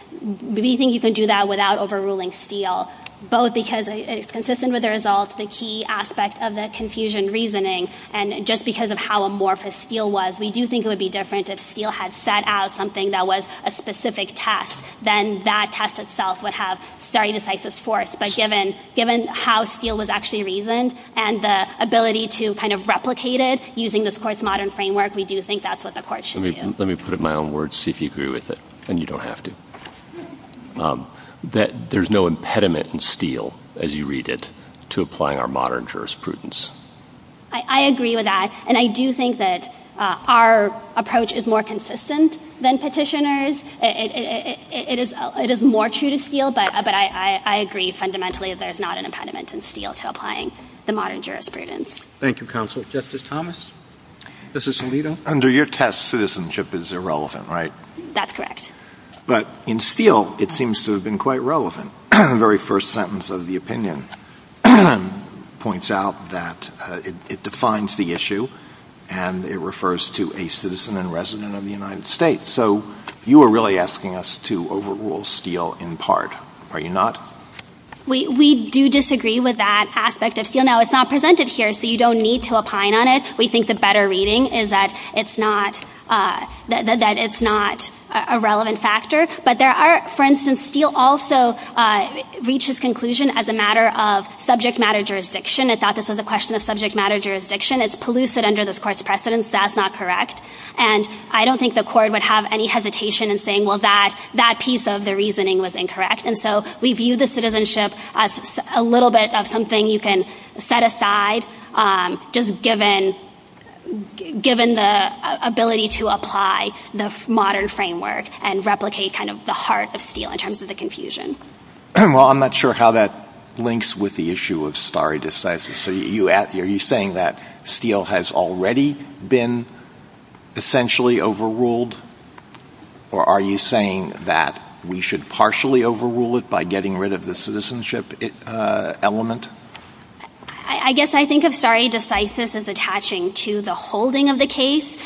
we think you can do that without overruling steel, both because it's consistent with the results, the key aspects of the confusion reasoning, and just because of how amorphous steel was. We do think it would be different if steel had set out something that was a specific test. Then that test itself would have stare decisis force, but given how steel was actually reasoned and the ability to kind of replicate it using this court's modern framework, we do think that's what the court should do. Let me put it in my own words, see if you agree with it, and you don't have to. There's no impediment in steel, as you read it, to apply our modern jurisprudence. I agree with that, and I do think that our approach is more consistent than Petitioner's. It is more true to steel, but I agree fundamentally that there's not an impediment in steel to applying the modern jurisprudence. Thank you, Counsel. Justice Thomas? Justice Alito? Under your test, citizenship is irrelevant, right? That's correct. But in steel, it seems to have been quite relevant. The very first sentence of the opinion points out that it defines the issue, and it refers to a citizen and resident of the United States. So you are really asking us to overrule steel in part, are you not? We do disagree with that aspect of steel. Now, it's not presented here, so you don't need to opine on it. We think the better reading is that it's not a relevant factor. But there are, for instance, steel also reaches conclusion as a matter of subject matter jurisdiction. I thought this was a question of subject matter jurisdiction. It's pellucid under this court's precedence. That's not correct. And I don't think the court would have any hesitation in saying, well, that piece of the reasoning was incorrect. And so we view the citizenship as a little bit of something you can set aside, just given the ability to apply the modern framework and replicate kind of the heart of steel in terms of the confusion. Well, I'm not sure how that links with the issue of stare decisis. Are you saying that steel has already been essentially overruled, or are you saying that we should partially overrule it by getting rid of the citizenship element? I guess I think of stare decisis as attaching to the holding of the case,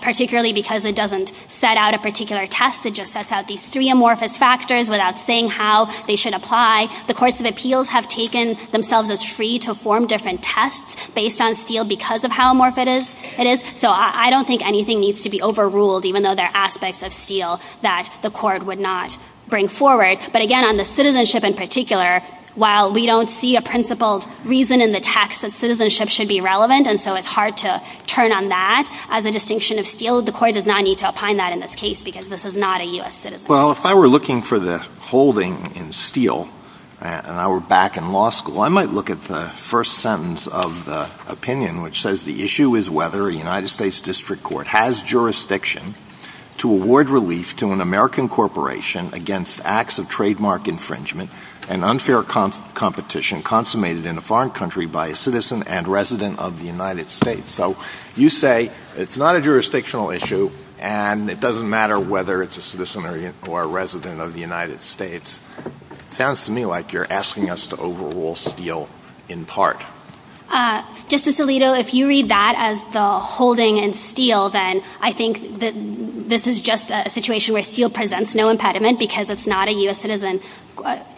particularly because it doesn't set out a particular test. It just sets out these three amorphous factors without saying how they should apply. The courts of appeals have taken themselves as free to form different tests based on steel because of how amorphous it is. So I don't think anything needs to be overruled, even though there are aspects of steel that the court would not bring forward. But again, on the citizenship in particular, while we don't see a principled reason in the text that citizenship should be relevant, and so it's hard to turn on that as a distinction of steel, the court does not need to opine that in this case because this is not a U.S. citizen. Well, if I were looking for the holding in steel and I were back in law school, I might look at the first sentence of the opinion, which says the issue is whether a United States district court has jurisdiction to award relief to an American corporation against acts of trademark infringement and unfair competition consummated in a foreign country by a citizen and resident of the United States. So you say it's not a jurisdictional issue and it doesn't matter whether it's a citizen or a resident of the United States. It sounds to me like you're asking us to overrule steel in part. Justice Alito, if you read that as the holding in steel, then I think that this is just a situation where steel presents no impediment because it's not a U.S. citizen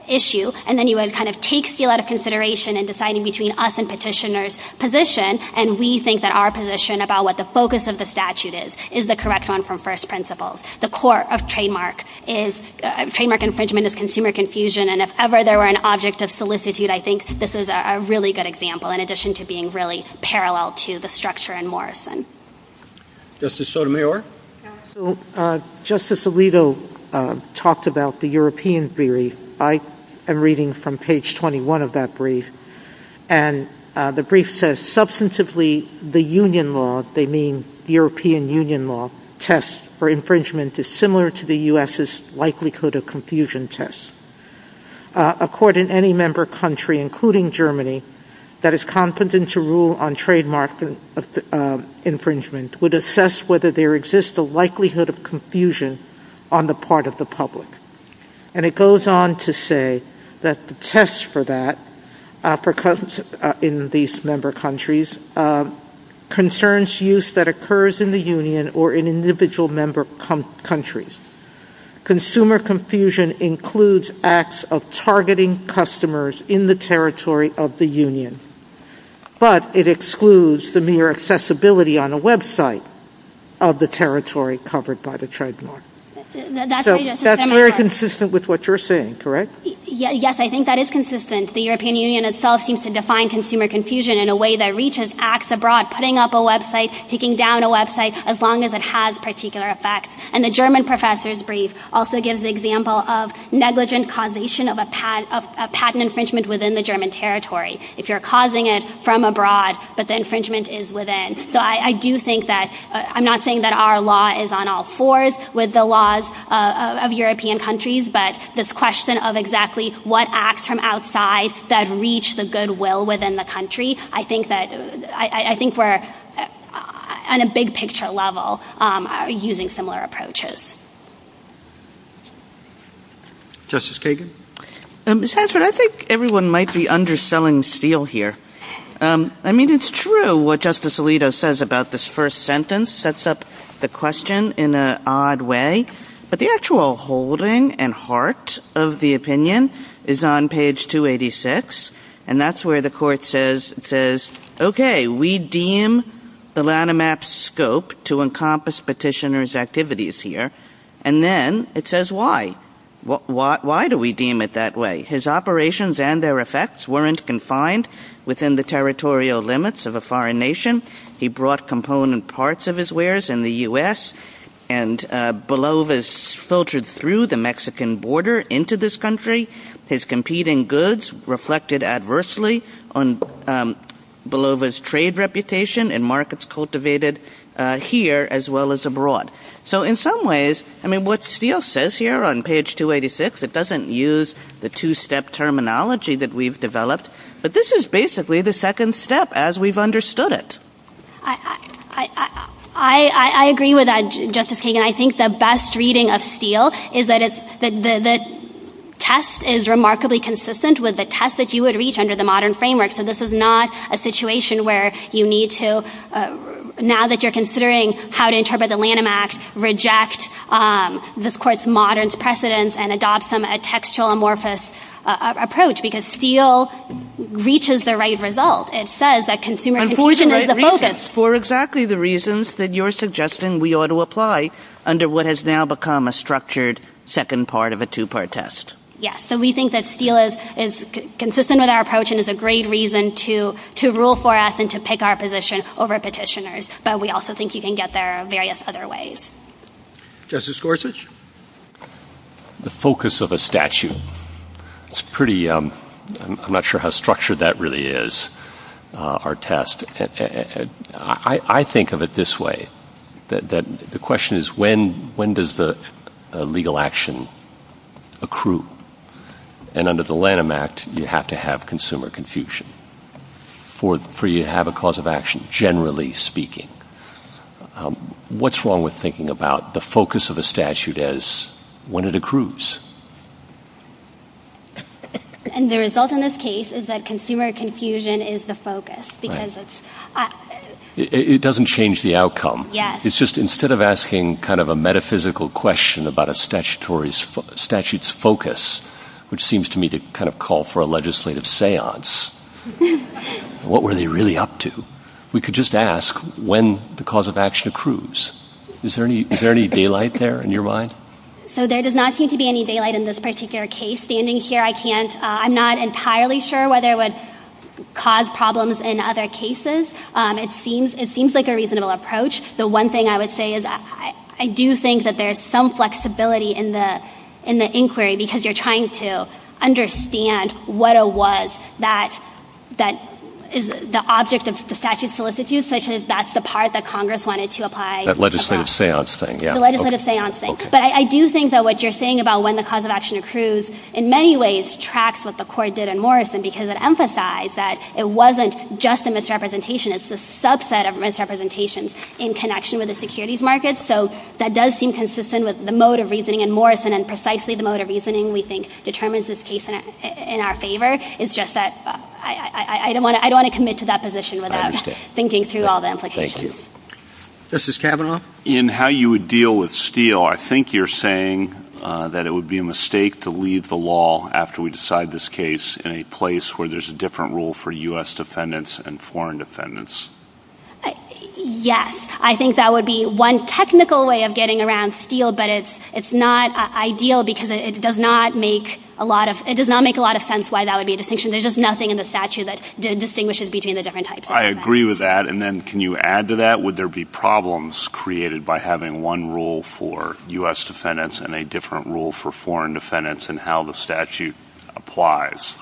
issue, and then you would kind of take steel out of consideration in deciding between us and petitioner's position, and we think that our position about what the focus of the statute is is the correct one from first principles. The court of trademark infringement is consumer confusion, and if ever there were an object of solicitude, I think this is a really good example in addition to being really parallel to the structure in Morrison. Justice Sotomayor? Justice Alito talked about the European theory. I am reading from page 21 of that brief, and the brief says, Substantively, the union law, they mean European union law, tests for infringement is similar to the U.S.'s likelihood of confusion test. A court in any member country, including Germany, that is competent to rule on trademark infringement would assess whether there exists a likelihood of confusion on the part of the public. And it goes on to say that the test for that in these member countries concerns use that occurs in the union or in individual member countries. Consumer confusion includes acts of targeting customers in the territory of the union, but it excludes the mere accessibility on a website of the territory covered by the trademark. That is very consistent with what you are saying, correct? Yes, I think that is consistent. The European Union itself seems to define consumer confusion in a way that reaches acts abroad, putting up a website, taking down a website, as long as it has particular effects. And the German professor's brief also gives the example of negligent causation of patent infringement within the German territory. If you are causing it from abroad, but the infringement is within. So I do think that, I am not saying that our law is on all fours with the laws of European countries, but this question of exactly what acts from outside that reach the goodwill within the country, I think we are, on a big picture level, using similar approaches. Justice Kagan? Mr. Hansford, I think everyone might be underselling Steele here. I mean, it is true what Justice Alito says about this first sentence. It sets up the question in an odd way. But the actual holding and heart of the opinion is on page 286. And that is where the court says, okay, we deem the Lanham Act's scope to encompass petitioner's activities here. And then it says, why? Why do we deem it that way? His operations and their effects weren't confined within the territorial limits of a foreign nation. He brought component parts of his wares in the U.S. and Belova's filtered through the Mexican border into this country. His competing goods reflected adversely on Belova's trade reputation and markets cultivated here as well as abroad. So in some ways, I mean, what Steele says here on page 286, it doesn't use the two-step terminology that we've developed, but this is basically the second step as we've understood it. I agree with that, Justice Kagan. I think the best reading of Steele is that the test is remarkably consistent with the test that you would reach under the modern framework. So this is not a situation where you need to, now that you're considering how to interpret the Lanham Act, reject this Court's modern precedents and adopt some textual amorphous approach because Steele reaches the right result. It says that consumer education is the focus. And for exactly the reasons that you're suggesting we ought to apply under what has now become a structured second part of a two-part test. Yes, so we think that Steele is consistent with our approach and that consumer education is a great reason to rule for us and to pick our position over petitioners, but we also think you can get there in various other ways. Justice Gorsuch? The focus of a statute. It's pretty, I'm not sure how structured that really is, our test. I think of it this way. The question is when does the legal action accrue? And under the Lanham Act, you have to have consumer confusion for you to have a cause of action, generally speaking. What's wrong with thinking about the focus of a statute as when it accrues? And the result in this case is that consumer confusion is the focus. It doesn't change the outcome. It's just instead of asking kind of a metaphysical question about a statute's focus, which seems to me to kind of call for a legislative seance, what were they really up to? We could just ask when the cause of action accrues. Is there any daylight there in your mind? So there does not seem to be any daylight in this particular case. Standing here, I can't, I'm not entirely sure whether it would cause problems in other cases. It seems like a reasonable approach. The one thing I would say is I do think that there's some flexibility in the inquiry because you're trying to understand what it was that is the object of the statute's solicitude, such as that's the part that Congress wanted to apply. That legislative seance thing, yeah. The legislative seance thing. But I do think that what you're saying about when the cause of action accrues in many ways tracks what the court did in Morrison because it emphasized that it wasn't just a misrepresentation. It's a subset of misrepresentation in connection with the securities market. So that does seem consistent with the mode of reasoning in Morrison and precisely the mode of reasoning we think determines this case in our favor. It's just that I don't want to commit to that position without thinking through all the implications. Thank you. Justice Kavanaugh? In how you would deal with Steele, I think you're saying that it would be a mistake to leave the law after we decide this case in a place where there's a different rule for U.S. defendants and foreign defendants. Yes. I think that would be one technical way of getting around Steele, but it's not ideal because it does not make a lot of sense why that would be a distinction. There's just nothing in the statute that distinguishes between the different types. I agree with that. And then can you add to that? Would there be problems created by having one rule for U.S. defendants and a different rule for foreign defendants in how the statute applies?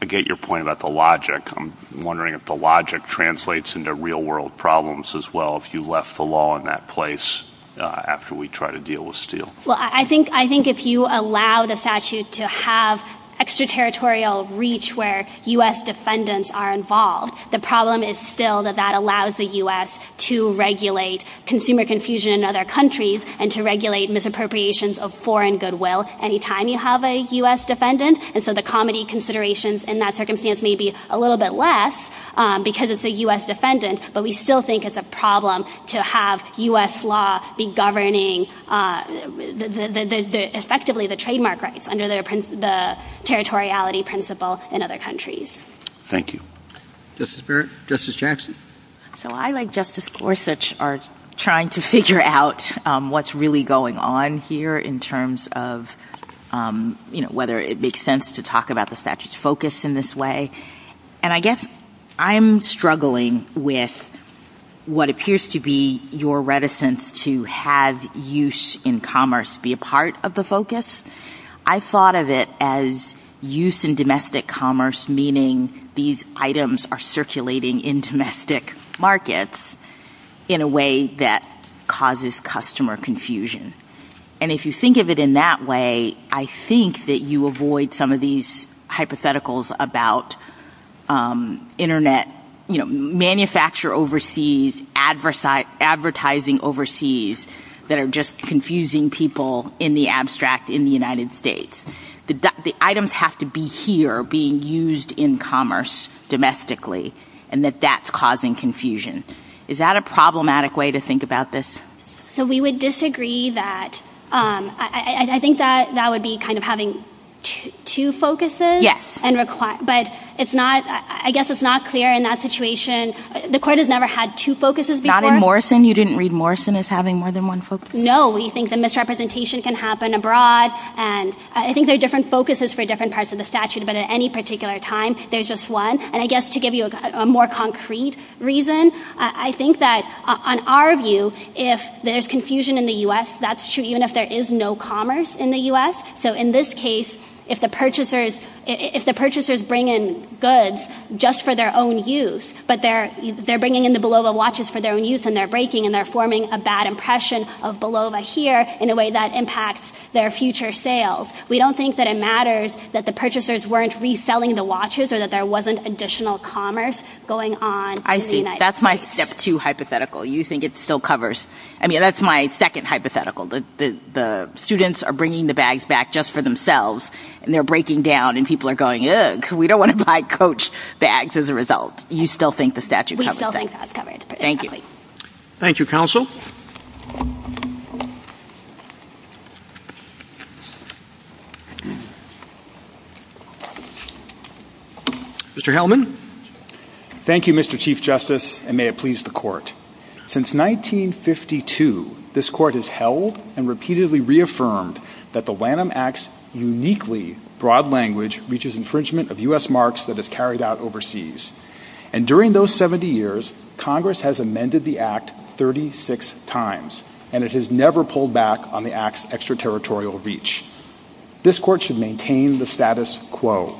I get your point about the logic. I'm wondering if the logic translates into real-world problems as well if you left the law in that place after we try to deal with Steele. Well, I think if you allow the statute to have extraterritorial reach where U.S. defendants are involved, the problem is still that that allows the U.S. to regulate consumer confusion in other countries and to regulate misappropriations of foreign goodwill any time you have a U.S. defendant. And so the comity considerations in that circumstance may be a little bit less because it's a U.S. defendant, but we still think it's a problem to have U.S. law be governing effectively the trademark rights under the territoriality principle in other countries. Thank you. Justice Jackson? So I, like Justice Gorsuch, are trying to figure out what's really going on here in terms of whether it makes sense to talk about the statute's focus in this way. And I guess I'm struggling with what appears to be your reticence to have use in commerce be a part of the focus. I thought of it as use in domestic commerce, meaning these items are circulating in domestic markets in a way that causes customer confusion. And if you think of it in that way, I think that you avoid some of these hypotheticals about Internet, you know, manufacture overseas, advertising overseas that are just confusing people in the abstract in the United States. The items have to be here being used in commerce domestically and that that's causing confusion. Is that a problematic way to think about this? So we would disagree that. I think that that would be kind of having two focuses. Yes. But it's not, I guess it's not clear in that situation. The court has never had two focuses before. Not in Morrison. You didn't read Morrison as having more than one focus. No, we think the misrepresentation can happen abroad and I think there are different focuses for different parts of the statute, but at any particular time, there's just one. And I guess to give you a more concrete reason, I think that on our view, if there's confusion in the U.S., that's true even if there is no commerce in the U.S. So in this case, if the purchasers bring in goods just for their own use, but they're bringing in the Bolova watches for their own use and they're breaking and they're forming a bad impression of Bolova here in a way that impacts their future sales, we don't think that it matters that the purchasers weren't reselling the watches or that there wasn't additional commerce going on in the United States. I see. That's my step two hypothetical. You think it still covers. I mean, that's my second hypothetical. The students are bringing the bags back just for themselves and they're breaking down and people are going, ugh, we don't want to buy coach bags as a result. You still think the statute covers that? We still think that's covered. Thank you. Thank you, counsel. Mr. Hellman. Thank you, Mr. Chief Justice, and may it please the court. Since 1952, this court has held and repeatedly reaffirmed that the Lanham Act's uniquely broad language reaches infringement of U.S. marks that is carried out overseas. And during those 70 years, Congress has amended the act 36 times and it has never pulled back on the act's extraterritorial reach. This court should maintain the status quo.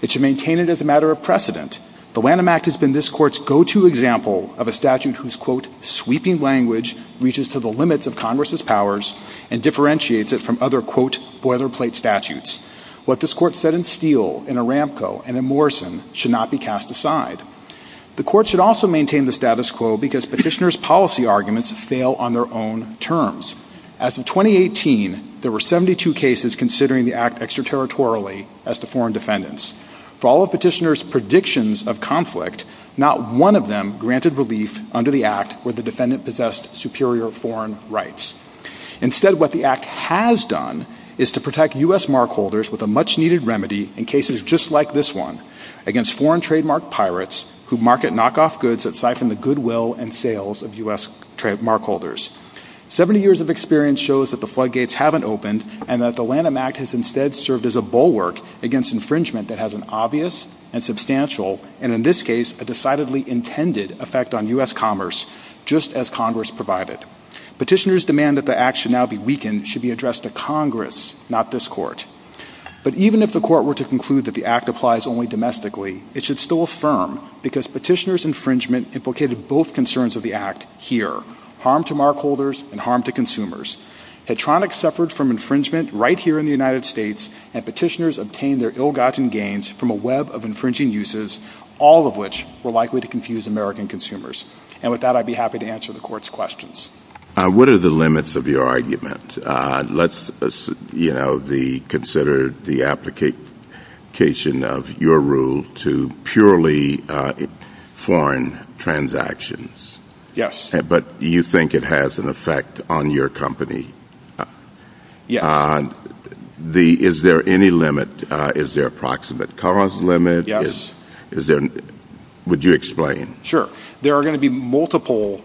It should maintain it as a matter of precedent. The Lanham Act has been this court's go-to example of a statute whose, quote, sweeping language reaches to the limits of Congress's powers and differentiates it from other, quote, boilerplate statutes. What this court said in Steele, in Aramco, and in Morrison should not be cast aside. The court should also maintain the status quo because petitioners' policy arguments fail on their own terms. As of 2018, there were 72 cases considering the act extraterritorially as to foreign defendants. For all of petitioners' predictions of conflict, not one of them granted relief under the act where the defendant possessed superior foreign rights. Instead, what the act has done is to protect U.S. markholders with a much-needed remedy in cases just like this one against foreign trademark pirates who market knockoff goods that siphon the goodwill and sales of U.S. markholders. Seventy years of experience shows that the floodgates haven't opened and that the Lanham Act has instead served as a bulwark against infringement that has an obvious and substantial and, in this case, a decidedly intended effect on U.S. commerce, just as Congress provided. Petitioners' demand that the act should now be weakened should be addressed to Congress, not this court. But even if the court were to conclude that the act applies only domestically, it should still affirm because petitioners' infringement implicated both concerns of the act here, harm to markholders and harm to consumers. Hedtronics suffered from infringement right here in the United States, and petitioners obtained their ill-gotten gains from a web of infringing uses, all of which were likely to confuse American consumers. And with that, I'd be happy to answer the court's questions. What are the limits of your argument? Let's consider the application of your rule to purely foreign transactions. Yes. But you think it has an effect on your company. Yes. Is there any limit? Is there a proximate cost limit? Yes. Would you explain? Sure. There are going to be multiple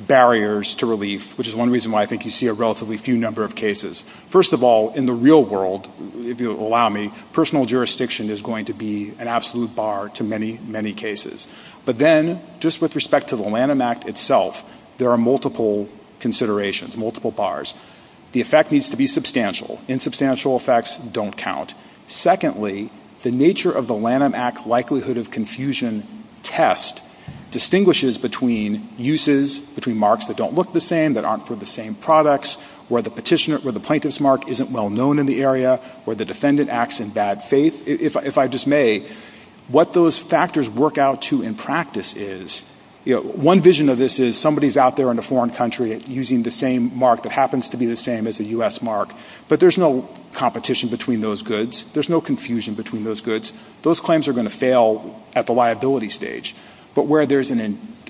barriers to relief, which is one reason why I think you see a relatively few number of cases. First of all, in the real world, if you'll allow me, personal jurisdiction is going to be an absolute bar to many, many cases. But then, just with respect to the Lanham Act itself, there are multiple considerations, multiple bars. The effect needs to be substantial. Insubstantial effects don't count. Secondly, the nature of the Lanham Act likelihood of confusion test distinguishes between uses, between marks that don't look the same, that aren't for the same products, where the petitioner or the plaintiff's mark isn't well-known in the area, where the defendant acts in bad faith. If I may, what those factors work out to in practice is, one vision of this is somebody's out there in a foreign country using the same mark that happens to be the same as a U.S. mark, but there's no competition between those goods. There's no confusion between those goods. Those claims are going to fail at the liability stage. But where there's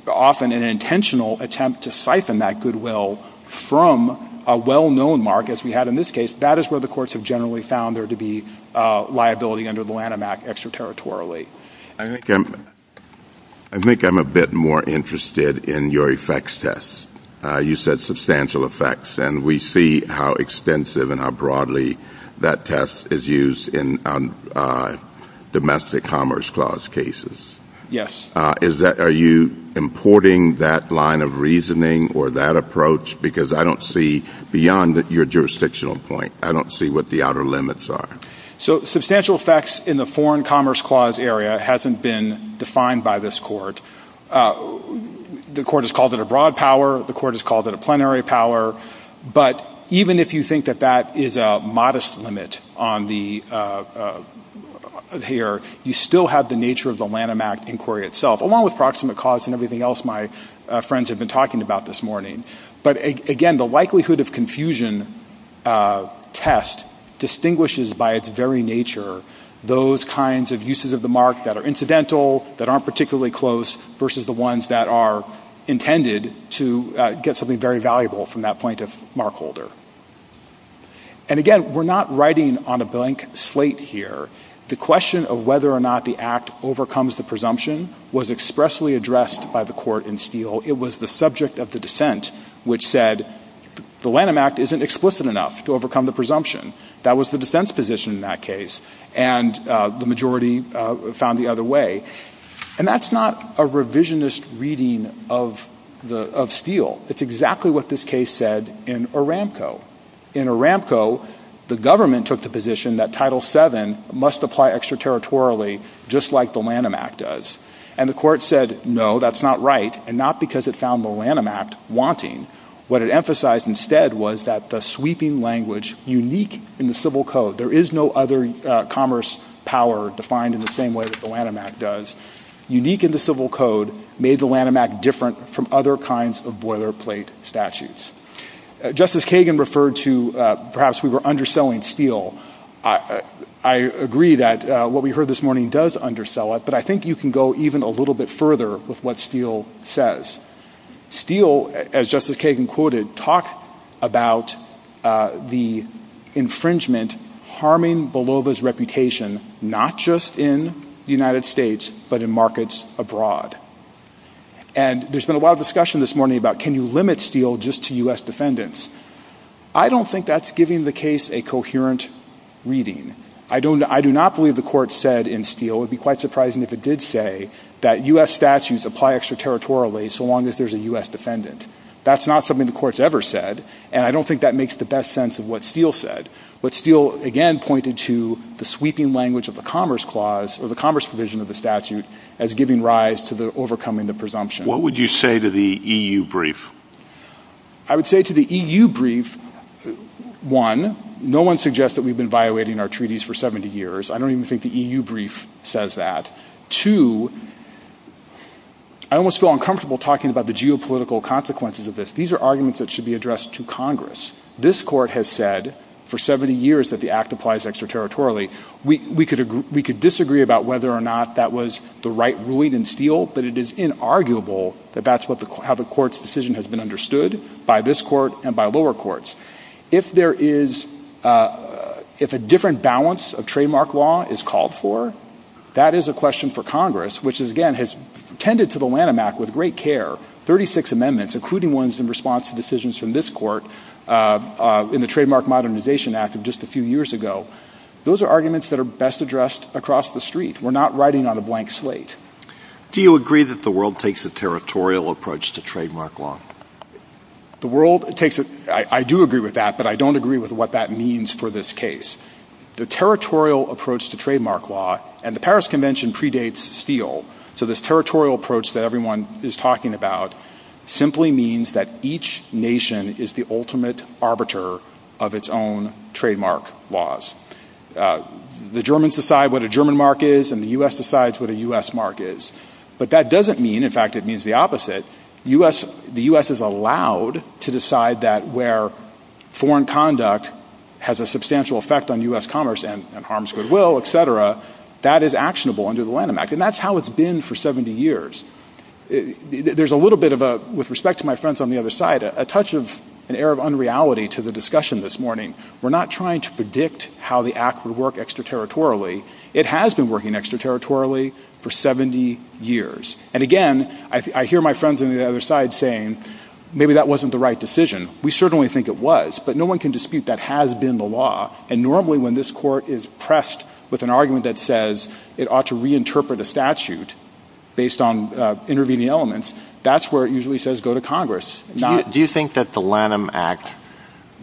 often an intentional attempt to siphon that goodwill from a well-known mark, as we had in this case, that is where the courts have generally found there to be liability under the Lanham Act extraterritorially. I think I'm a bit more interested in your effects tests. You said substantial effects, and we see how extensive and how broadly that test is used in domestic commerce clause cases. Yes. Are you importing that line of reasoning or that approach? Because I don't see, beyond your jurisdictional point, I don't see what the outer limits are. Substantial effects in the foreign commerce clause area hasn't been defined by this Court. The Court has called it a broad power. The Court has called it a plenary power. But even if you think that that is a modest limit here, you still have the nature of the Lanham Act inquiry itself, along with proximate cause and everything else my friends have been talking about this morning. But, again, the likelihood of confusion test distinguishes by its very nature those kinds of uses of the mark that are incidental, that aren't particularly close, versus the ones that are intended to get something very valuable from that plaintiff mark holder. And, again, we're not writing on a blank slate here. The question of whether or not the Act overcomes the presumption was expressly addressed by the Court in Steele. It was the subject of the dissent which said the Lanham Act isn't explicit enough to overcome the presumption. That was the dissent's position in that case, and the majority found the other way. And that's not a revisionist reading of Steele. It's exactly what this case said in Aramco. In Aramco, the government took the position that Title VII must apply extraterritorially just like the Lanham Act does. And the Court said, no, that's not right, and not because it found the Lanham Act wanting. What it emphasized instead was that the sweeping language unique in the civil code, there is no other commerce power defined in the same way that the Lanham Act does, unique in the civil code made the Lanham Act different from other kinds of boilerplate statutes. Justice Kagan referred to perhaps we were underselling Steele. I agree that what we heard this morning does undersell it, but I think you can go even a little bit further with what Steele says. Steele, as Justice Kagan quoted, talked about the infringement harming Volova's reputation not just in the United States but in markets abroad. And there's been a lot of discussion this morning about can you limit Steele just to U.S. defendants. I don't think that's giving the case a coherent reading. I do not believe the Court said in Steele, it would be quite surprising if it did say that U.S. statutes apply extraterritorially so long as there's a U.S. defendant. That's not something the Court's ever said, and I don't think that makes the best sense of what Steele said. But Steele, again, pointed to the sweeping language of the Commerce provision of the statute as giving rise to overcoming the presumption. What would you say to the EU brief? I would say to the EU brief, one, no one suggests that we've been violating our treaties for 70 years. I don't even think the EU brief says that. Two, I almost feel uncomfortable talking about the geopolitical consequences of this. These are arguments that should be addressed to Congress. This Court has said for 70 years that the Act applies extraterritorially. We could disagree about whether or not that was the right ruling in Steele, but it is inarguable that that's how the Court's decision has been understood by this Court and by lower courts. If a different balance of trademark law is called for, that is a question for Congress, which, again, has tended to the Lanham Act with great care, 36 amendments, including ones in response to decisions from this Court, in the Trademark Modernization Act of just a few years ago. Those are arguments that are best addressed across the street. We're not writing on a blank slate. Do you agree that the world takes a territorial approach to trademark law? The world takes a... I do agree with that, but I don't agree with what that means for this case. The territorial approach to trademark law, and the Paris Convention predates Steele, so this territorial approach that everyone is talking about simply means that each nation is the ultimate arbiter of its own trademark laws. The Germans decide what a German mark is, and the U.S. decides what a U.S. mark is. But that doesn't mean, in fact, it means the opposite. The U.S. is allowed to decide that where foreign conduct has a substantial effect on U.S. commerce and harms goodwill, et cetera, that is actionable under the Lanham Act, and that's how it's been for 70 years. There's a little bit of a... With respect to my friends on the other side, a touch of an air of unreality to the discussion this morning. We're not trying to predict how the Act would work extraterritorially. It has been working extraterritorially for 70 years. And again, I hear my friends on the other side saying, maybe that wasn't the right decision. We certainly think it was, but no one can dispute that has been the law, and normally when this court is pressed with an argument that says it ought to reinterpret a statute based on intervening elements, that's where it usually says go to Congress. Do you think that the Lanham Act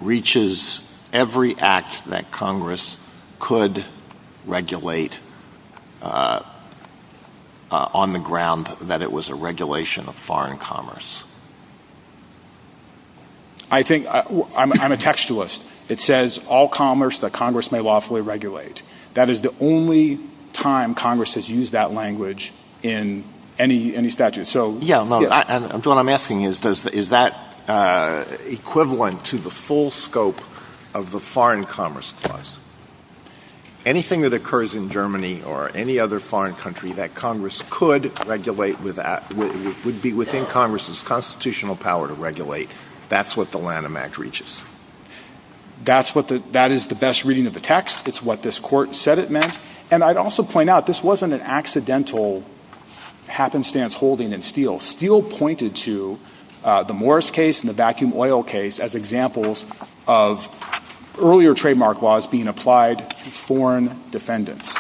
reaches every act that Congress could regulate on the ground that it was a regulation of foreign commerce? I think... I'm a textualist. It says all commerce that Congress may lawfully regulate. That is the only time Congress has used that language in any statute. So... Yeah, no. What I'm asking is, is that equivalent to the full scope of the foreign commerce clause? Anything that occurs in Germany or any other foreign country that Congress could regulate would be within Congress's constitutional power to regulate. That's what the Lanham Act reaches. That is the best reading of the text. It's what this court said it meant. And I'd also point out this wasn't an accidental happenstance holding in Steele. Steele pointed to the Morris case and the vacuum oil case as examples of earlier trademark laws being applied to foreign defendants.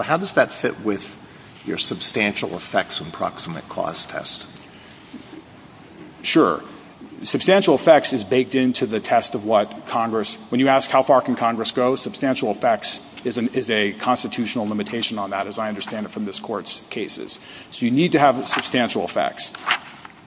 How does that fit with your substantial effects approximate clause test? Sure. Substantial effects is baked into the test of what Congress... Substantial effects is a constitutional limitation on that, as I understand it from this court's cases. So you need to have substantial effects.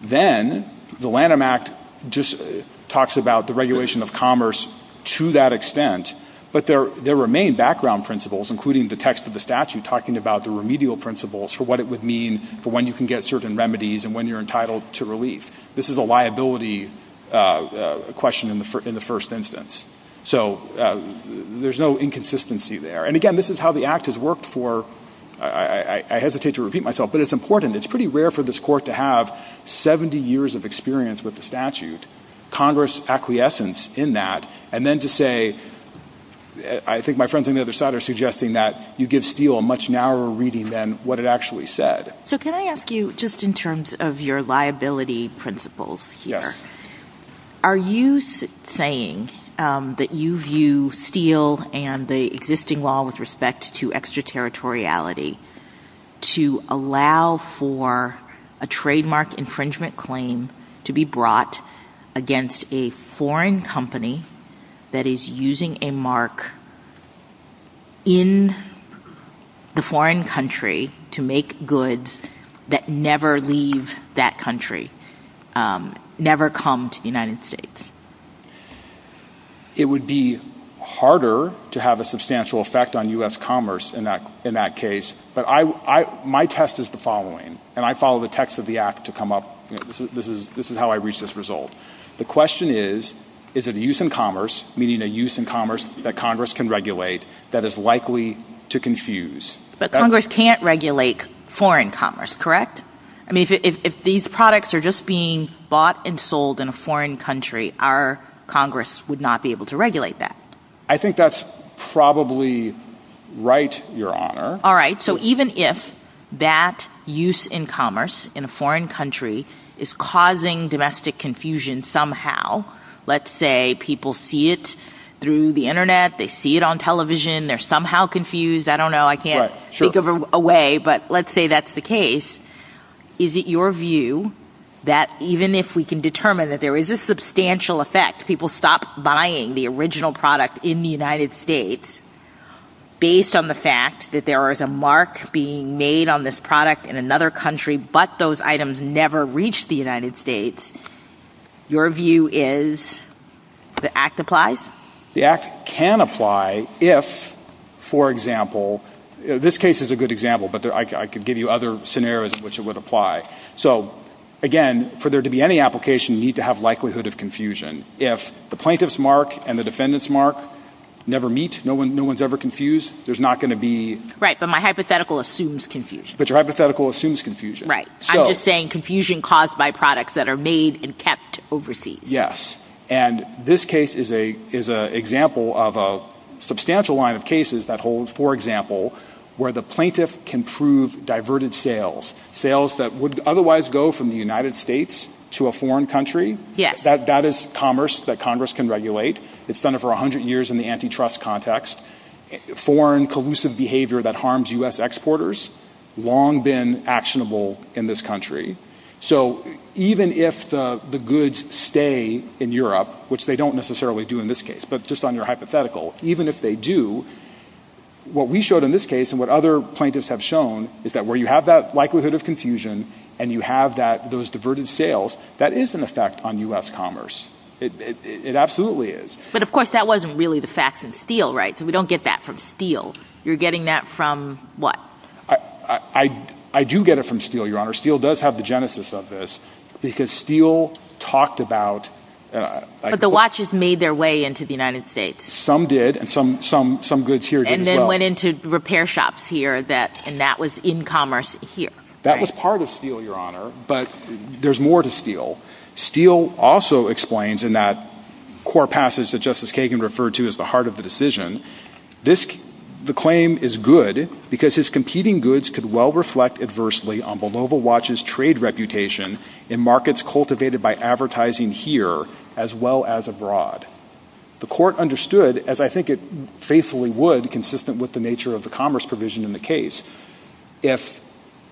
Then the Lanham Act just talks about the regulation of commerce to that extent, but there remain background principles, including the text of the statute, talking about the remedial principles for what it would mean for when you can get certain remedies and when you're entitled to relief. This is a liability question in the first instance. So there's no inconsistency there. And again, this is how the Act has worked for... I hesitate to repeat myself, but it's important. It's pretty rare for this court to have 70 years of experience with the statute, Congress acquiescence in that, and then to say... I think my friends on the other side are suggesting that you give Steele a much narrower reading than what it actually said. So can I ask you, just in terms of your liability principles here, are you saying that you view Steele and the existing law with respect to extraterritoriality to allow for a trademark infringement claim to be brought against a foreign company that is using a mark in the foreign country to make goods that never leave that country, never come to the United States? It would be harder to have a substantial effect on U.S. commerce in that case. But my test is the following, and I follow the text of the Act to come up... This is how I reach this result. The question is, is it a use in commerce, meaning a use in commerce that Congress can regulate, that is likely to confuse? But Congress can't regulate foreign commerce, correct? If these products are just being bought and sold in a foreign country, our Congress would not be able to regulate that. I think that's probably right, Your Honor. All right, so even if that use in commerce in a foreign country is causing domestic confusion somehow, let's say people see it through the Internet, they see it on television, they're somehow confused, I don't know, I can't think of a way, but let's say that's the case, is it your view that even if we can determine that there is a substantial effect, people stop buying the original product in the United States based on the fact that there is a mark being made on this product in another country but those items never reach the United States, your view is the Act applies? The Act can apply if, for example, this case is a good example, but I could give you other scenarios in which it would apply. So again, for there to be any application, you need to have likelihood of confusion. If the plaintiff's mark and the defendant's mark never meet, no one's ever confused, there's not going to be... Right, but my hypothetical assumes confusion. But your hypothetical assumes confusion. Right, I'm just saying confusion caused by products that are made and kept overseas. Yes, and this case is an example of a substantial line of cases that holds, for example, where the plaintiff can prove diverted sales, sales that would otherwise go from the United States to a foreign country. Yes. That is commerce that Congress can regulate. It's done it for 100 years in the antitrust context. Foreign collusive behavior that harms U.S. exporters, long been actionable in this country. So even if the goods stay in Europe, which they don't necessarily do in this case, but just on your hypothetical, even if they do, what we showed in this case and what other plaintiffs have shown is that where you have that likelihood of confusion and you have those diverted sales, that is an effect on U.S. commerce. It absolutely is. But, of course, that wasn't really the facts in Steele, right? So we don't get that from Steele. You're getting that from what? I do get it from Steele, Your Honor. Steele does have the genesis of this because Steele talked about... But the watches made their way into the United States. Some did, and some goods here did as well. And then went into repair shops here, and that was in commerce here. That was part of Steele, Your Honor, but there's more to Steele. Steele also explains in that core passage that Justice Kagan referred to as the heart of the decision, the claim is good because his competing goods could well reflect adversely on Volvo Watch's trade reputation in markets cultivated by advertising here as well as abroad. The court understood, as I think it faithfully would, consistent with the nature of the commerce provision in the case, if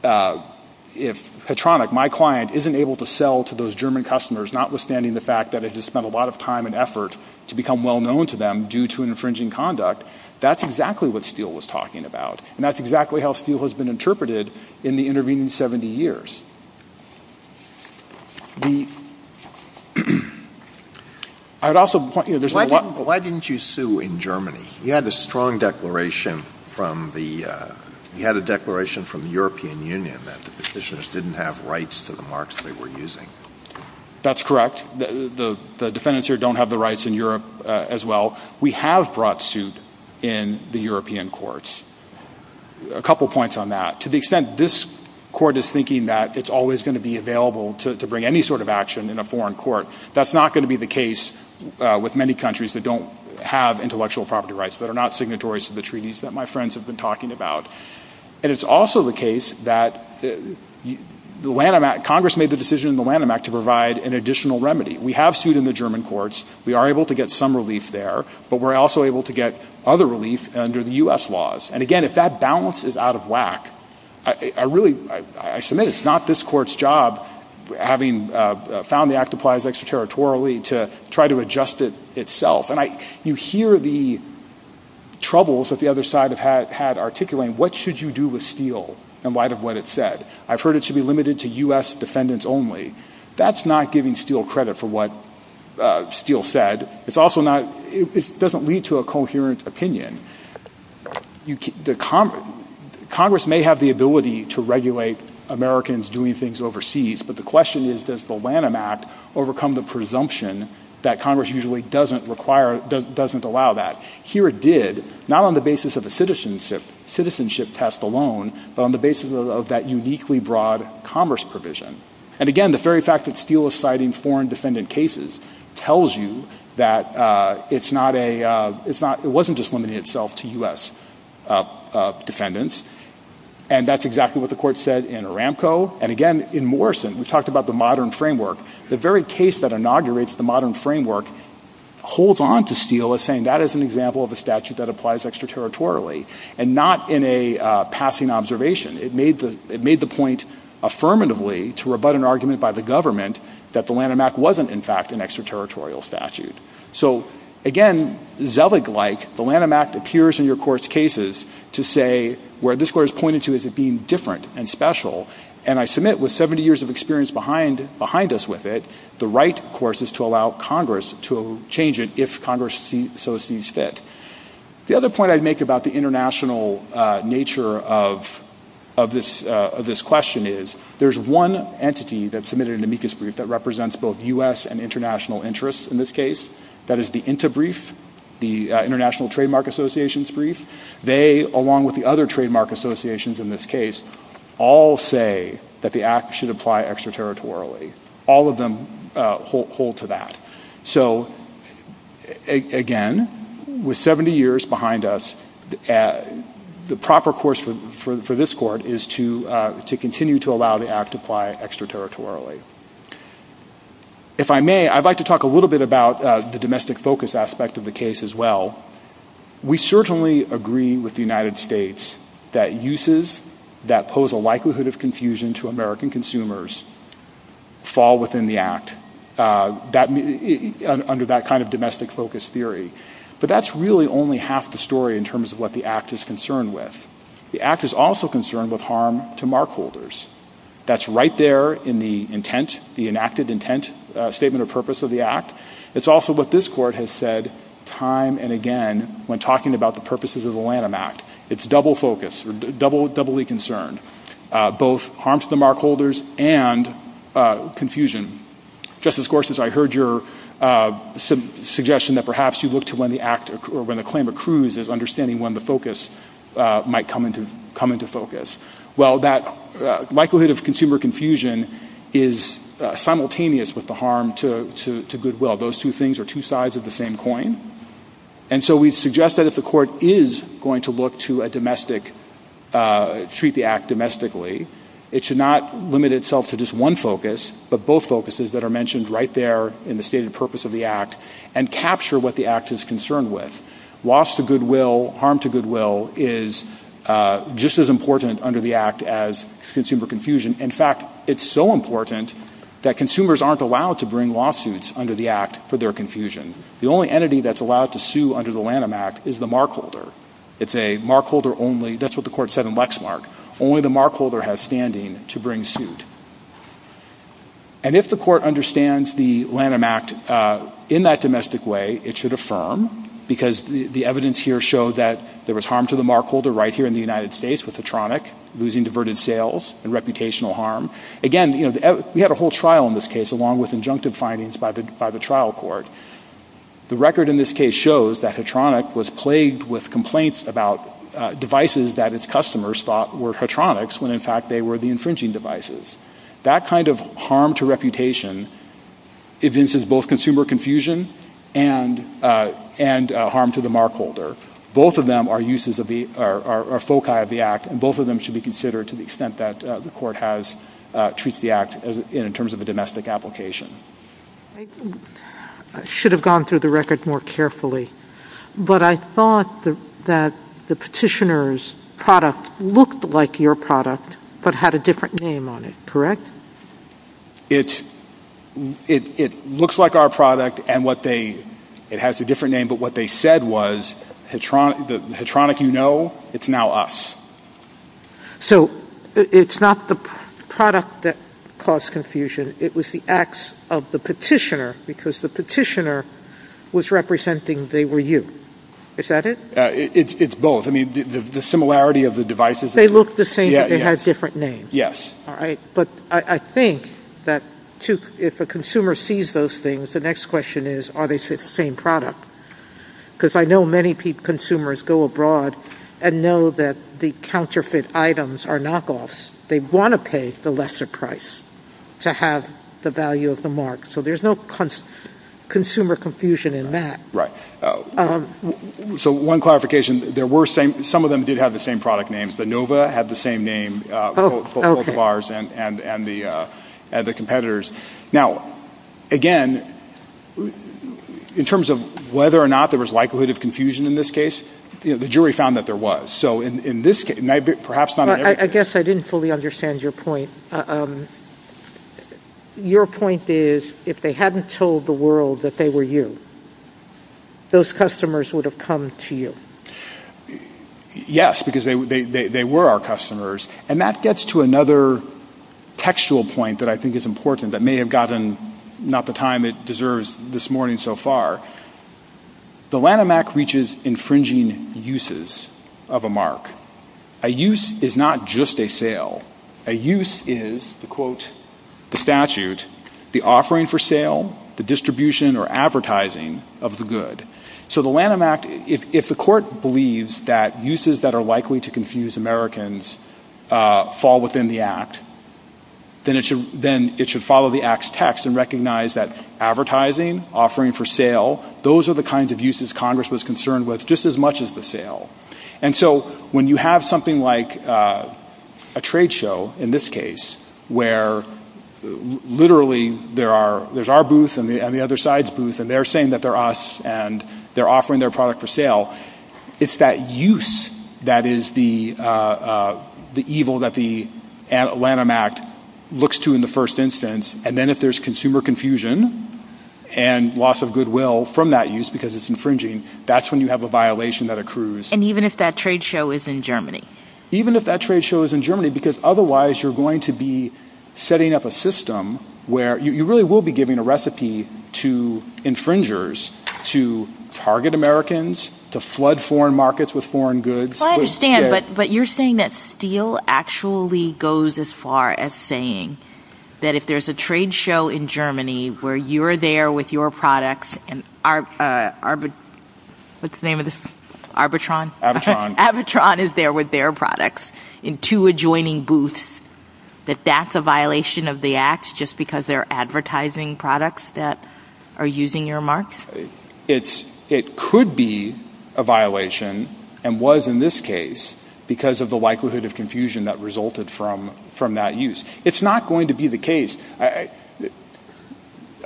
Petronik, my client, isn't able to sell to those German customers, notwithstanding the fact that it has spent a lot of time and effort to become well-known to them due to an infringing conduct, that's exactly what Steele was talking about, and that's exactly how Steele has been interpreted in the intervening 70 years. Why didn't you sue in Germany? You had a strong declaration from the European Union that the petitioners didn't have rights to the marks they were using. That's correct. The defendants here don't have the rights in Europe as well. We have brought suit in the European courts. A couple points on that. To the extent this court is thinking that it's always going to be available to bring any sort of action in a foreign court, that's not going to be the case with many countries that don't have intellectual property rights that are not signatories to the treaties that my friends have been talking about. It's also the case that Congress made the decision in the Lanham Act to provide an additional remedy. We have sued in the German courts. We are able to get some relief there, but we're also able to get other relief under the U.S. laws. Again, if that balance is out of whack, I submit it's not this court's job, having found the act applies extraterritorially, to try to adjust it itself. You hear the troubles that the other side had articulated. What should you do with steel in light of what it said? I've heard it should be limited to U.S. defendants only. That's not giving steel credit for what steel said. It doesn't lead to a coherent opinion. Congress may have the ability to regulate Americans doing things overseas, but the question is, does the Lanham Act overcome the presumption that Congress usually doesn't allow that? Here it did, not on the basis of a citizenship test alone, but on the basis of that uniquely broad commerce provision. And again, the very fact that steel is citing foreign defendant cases tells you that it wasn't just limiting itself to U.S. defendants, and that's exactly what the court said in Aramco. And again, in Morrison, we talked about the modern framework. The very case that inaugurates the modern framework holds on to steel as saying that is an example of a statute that applies extraterritorially, and not in a passing observation. It made the point affirmatively to rebut an argument by the government that the Lanham Act wasn't, in fact, an extraterritorial statute. So again, zealot-like, the Lanham Act appears in your court's cases to say where this court has pointed to as it being different and special, and I submit with 70 years of experience behind us with it, the right, of course, is to allow Congress to change it if Congress so sees fit. The other point I'd make about the international nature of this question is that there's one entity that submitted an amicus brief that represents both U.S. and international interests in this case. That is the INTA brief, the International Trademark Association's brief. They, along with the other trademark associations in this case, all say that the Act should apply extraterritorially. All of them hold to that. So again, with 70 years behind us, the proper course for this court is to continue to allow the Act to apply extraterritorially. If I may, I'd like to talk a little bit about the domestic focus aspect of the case as well. We certainly agree with the United States that uses that pose a likelihood of confusion to American consumers fall within the Act under that kind of domestic focus theory. But that's really only half the story in terms of what the Act is concerned with. The Act is also concerned with harm to markholders. That's right there in the intent, the enacted intent, statement of purpose of the Act. It's also what this court has said time and again when talking about the purposes of the Lanham Act. It's double focus, doubly concerned, both harm to the markholders and confusion. Justice Gorsuch, I heard your suggestion that perhaps you look to when the Act or when the claim accrues as understanding when the focus might come into focus. Well, that likelihood of consumer confusion is simultaneous with the harm to goodwill. Those two things are two sides of the same coin. And so we suggest that if the court is going to look to treat the Act domestically, it should not limit itself to just one focus but both focuses that are mentioned right there in the stated purpose of the Act and capture what the Act is concerned with. Loss to goodwill, harm to goodwill is just as important under the Act as consumer confusion. In fact, it's so important that consumers aren't allowed to bring lawsuits under the Act for their confusion. The only entity that's allowed to sue under the Lanham Act is the markholder. It's a markholder only, that's what the court said in Lexmark, only the markholder has standing to bring suit. And if the court understands the Lanham Act in that domestic way, it should affirm because the evidence here showed that there was harm to the markholder right here in the United States with Hattronic losing diverted sales and reputational harm. Again, we had a whole trial in this case along with injunctive findings by the trial court. The record in this case shows that Hattronic was plagued with complaints about devices that its customers thought were Hattronics when in fact they were the infringing devices. That kind of harm to reputation evinces both consumer confusion and harm to the markholder. Both of them are foci of the Act and both of them should be considered to the extent that the court has in terms of the domestic application. I should have gone through the record more carefully, but I thought that the petitioner's product looked like your product but had a different name on it, correct? It looks like our product and it has a different name, but what they said was the Hattronic you know, it's now us. So it's not the product that caused confusion. It was the acts of the petitioner because the petitioner was representing they were you. Is that it? It's both. I mean the similarity of the devices. They look the same, but they have different names. Yes. All right. But I think that if a consumer sees those things, the next question is are they the same product? Because I know many consumers go abroad and know that the counterfeit items are knockoffs. They want to pay the lesser price to have the value of the mark. So there's no consumer confusion in that. Right. So one clarification, some of them did have the same product names. The Nova had the same name for both of ours and the competitors. Now, again, in terms of whether or not there was likelihood of confusion in this case, you know, the jury found that there was. So in this case, perhaps not in every case. I guess I didn't fully understand your point. Your point is if they hadn't told the world that they were you, those customers would have come to you. Yes, because they were our customers. And that gets to another textual point that I think is important that may have gotten not the time it deserves this morning so far. The Lanham Act reaches infringing uses of a mark. A use is not just a sale. A use is, to quote the statute, the offering for sale, the distribution or advertising of the good. So the Lanham Act, if the court believes that uses that are likely to confuse Americans fall within the Act, then it should follow the Act's text and recognize that advertising, offering for sale, those are the kinds of uses Congress was concerned with just as much as the sale. And so when you have something like a trade show in this case where literally there's our booth and the other side's booth and they're saying that they're us and they're offering their product for sale, it's that use that is the evil that the Lanham Act looks to in the first instance. And then if there's consumer confusion and loss of goodwill from that use because it's infringing, that's when you have a violation that accrues. And even if that trade show is in Germany? Even if that trade show is in Germany because otherwise you're going to be setting up a system where you really will be giving a recipe to infringers to target Americans, to flood foreign markets with foreign goods. I understand, but you're saying that Steele actually goes as far as saying that if there's a trade show in Germany where you're there with your products and Arbitron is there with their products in two adjoining booths, that that's a violation of the Act just because they're advertising products that are using your marks? It could be a violation and was in this case because of the likelihood of confusion that resulted from that use. It's not going to be the case.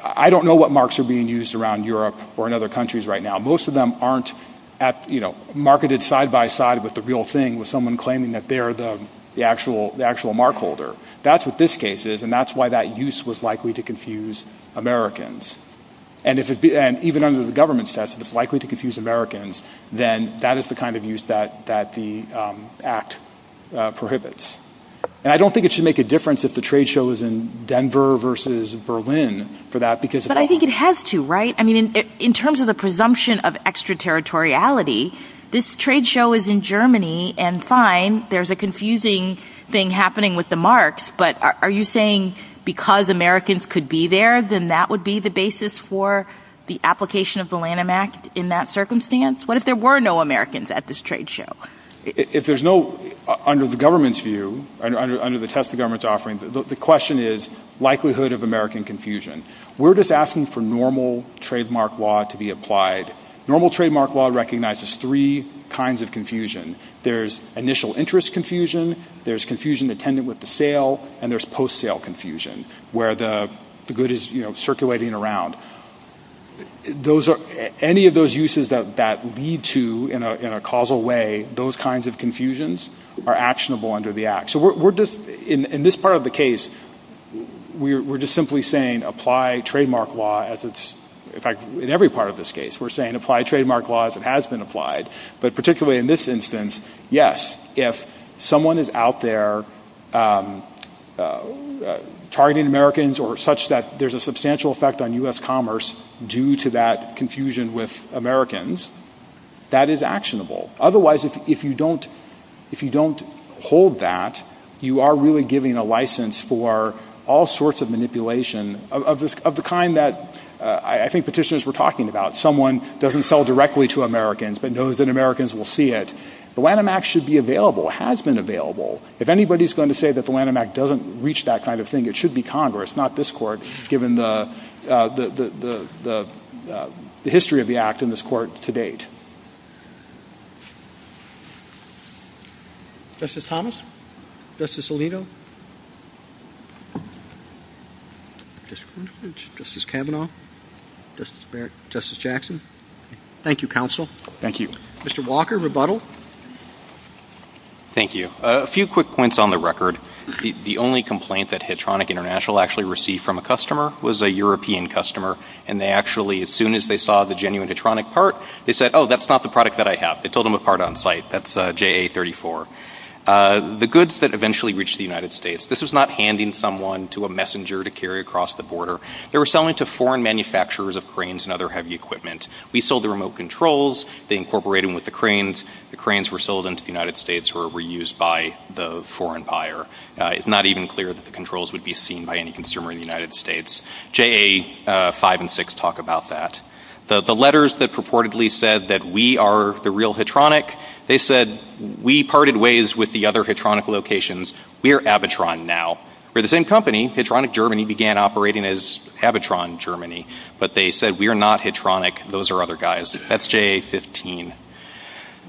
I don't know what marks are being used around Europe or in other countries right now. Most of them aren't marketed side by side with the real thing with someone claiming that they're the actual mark holder. That's what this case is and that's why that use was likely to confuse Americans. And even under the government's test, it's likely to confuse Americans, then that is the kind of use that the Act prohibits. And I don't think it should make a difference if the trade show is in Denver versus Berlin for that. But I think it has to, right? In terms of the presumption of extraterritoriality, this trade show is in Germany and fine, there's a confusing thing happening with the marks, but are you saying because Americans could be there, then that would be the basis for the application of the Lanham Act in that circumstance? What if there were no Americans at this trade show? If there's no, under the government's view, under the test the government's offering, the question is likelihood of American confusion. We're just asking for normal trademark law to be applied. Normal trademark law recognizes three kinds of confusion. There's initial interest confusion, there's confusion attendant with the sale, and there's post-sale confusion where the good is circulating around. Any of those uses that lead to, in a causal way, those kinds of confusions are actionable under the Act. In this part of the case, we're just simply saying apply trademark law. In fact, in every part of this case, we're saying apply trademark law as it has been applied. But particularly in this instance, yes, if someone is out there targeting Americans or such that there's a substantial effect on U.S. commerce due to that confusion with Americans, that is actionable. Otherwise, if you don't hold that, you are really giving a license for all sorts of manipulation of the kind that I think petitioners were talking about. Someone doesn't sell directly to Americans but knows that Americans will see it. The Lanham Act should be available, has been available. If anybody's going to say that the Lanham Act doesn't reach that kind of thing, it should be Congress, not this Court, given the history of the Act in this Court to date. Thank you. Mr. Walker, rebuttal. Thank you. A few quick points on the record. The only complaint that Hedronic International actually received from a customer was a European customer. And they actually, as soon as they saw the genuine Hedronic part, they said, oh, that's not the product that I have. They told them apart on site. That's JA-34. The goods that eventually reached the United States, this was not handing someone to a messenger to carry across the border. They were selling to foreign manufacturers of cranes and other heavy equipment. We sold the remote controls. They incorporated them with the cranes. The cranes were sold into the United States or were used by the foreign buyer. It's not even clear that the controls would be seen by any consumer in the United States. JA-5 and 6 talk about that. The letters that purportedly said that we are the real Hedronic, they said we parted ways with the other Hedronic locations. We're Abitron now. We're the same company. Hedronic Germany began operating as Abitron Germany. But they said we are not Hedronic. Those are other guys. That's JA-15.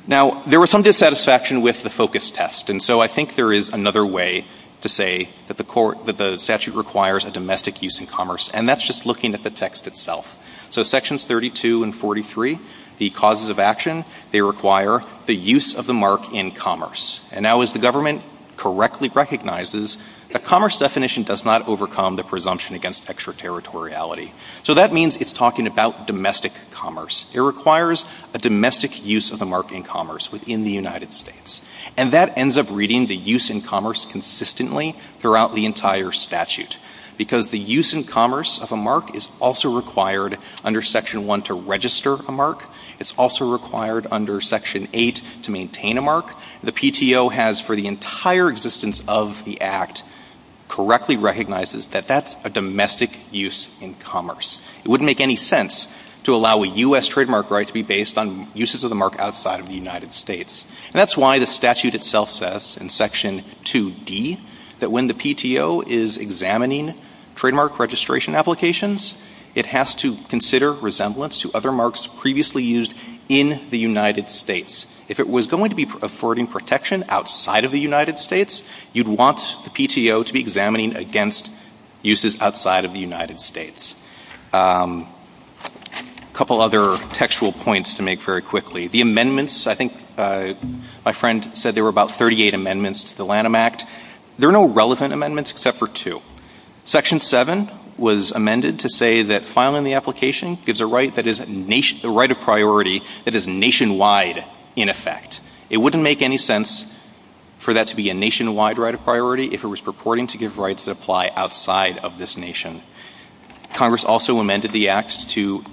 Now, there was some dissatisfaction with the focus test, and so I think there is another way to say that the statute requires a domestic use in commerce, and that's just looking at the text itself. So Sections 32 and 43, the causes of action, they require the use of the mark in commerce. Now, as the government correctly recognizes, the commerce definition does not overcome the presumption against extraterritoriality. So that means it's talking about domestic commerce. It requires a domestic use of the mark in commerce within the United States, and that ends up reading the use in commerce consistently throughout the entire statute because the use in commerce of a mark is also required under Section 1 to register a mark. The PTO has, for the entire existence of the Act, correctly recognizes that that's a domestic use in commerce. It wouldn't make any sense to allow a U.S. trademark right to be based on uses of the mark outside of the United States. That's why the statute itself says in Section 2D that when the PTO is examining trademark registration applications, it has to consider resemblance to other marks previously used in the United States. If it was going to be affording protection outside of the United States, you'd want the PTO to be examining against uses outside of the United States. A couple other textual points to make very quickly. The amendments, I think my friend said there were about 38 amendments to the Lanham Act. There are no relevant amendments except for two. Section 7 was amended to say that filing the application gives a right of priority that is nationwide in effect. It wouldn't make any sense for that to be a nationwide right of priority if it was purporting to give rights that apply outside of this nation. Congress also amended the Act to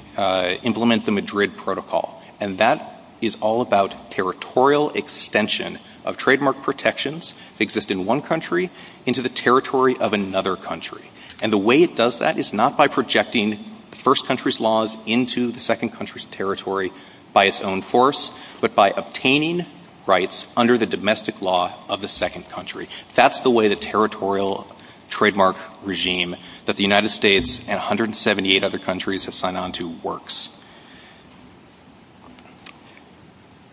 implement the Madrid Protocol, and that is all about territorial extension of trademark protections that exist in one country into the territory of another country. And the way it does that is not by projecting first country's laws into the second country's territory by its own force, but by obtaining rights under the domestic law of the second country. That's the way the territorial trademark regime that the United States and 178 other countries have signed on to works.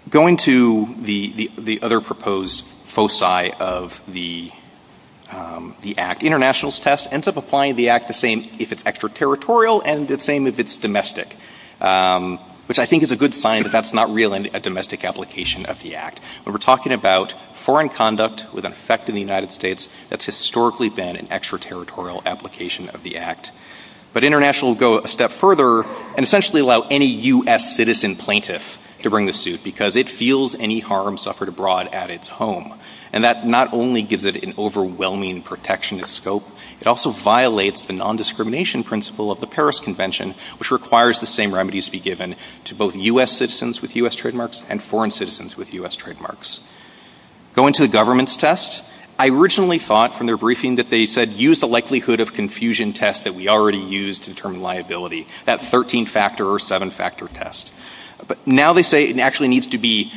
Going to the other proposed foci of the Act, the international test ends up applying the Act the same if it's extraterritorial and the same if it's domestic, which I think is a good sign that that's not really a domestic application of the Act. But we're talking about foreign conduct with an effect in the United States that's historically been an extraterritorial application of the Act. But international will go a step further and essentially allow any U.S. citizen plaintiff to bring the suit because it feels any harm suffered abroad at its home. And that not only gives it an overwhelming protectionist scope, it also violates the nondiscrimination principle of the Paris Convention, which requires the same remedies be given to both U.S. citizens with U.S. trademarks and foreign citizens with U.S. trademarks. Going to the government's test, I originally thought from their briefing that they said use the likelihood of confusion test that we already used to determine liability, that 13-factor or 7-factor test. But now they say it actually needs to be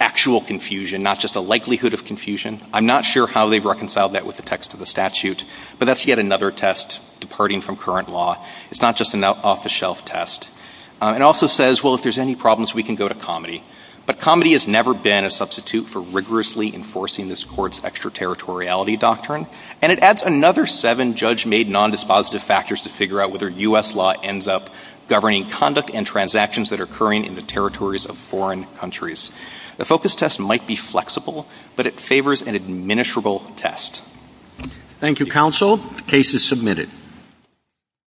actual confusion, and not just a likelihood of confusion. I'm not sure how they've reconciled that with the text of the statute, but that's yet another test departing from current law. It's not just an off-the-shelf test. It also says, well, if there's any problems, we can go to COMETI. But COMETI has never been a substitute for rigorously enforcing this court's extraterritoriality doctrine. And it adds another seven judge-made nondispositive factors to figure out whether U.S. law ends up governing conduct and transactions that are occurring in the territories of foreign countries. The focus test might be flexible, but it favors an administrable test. Thank you, counsel. The case is submitted.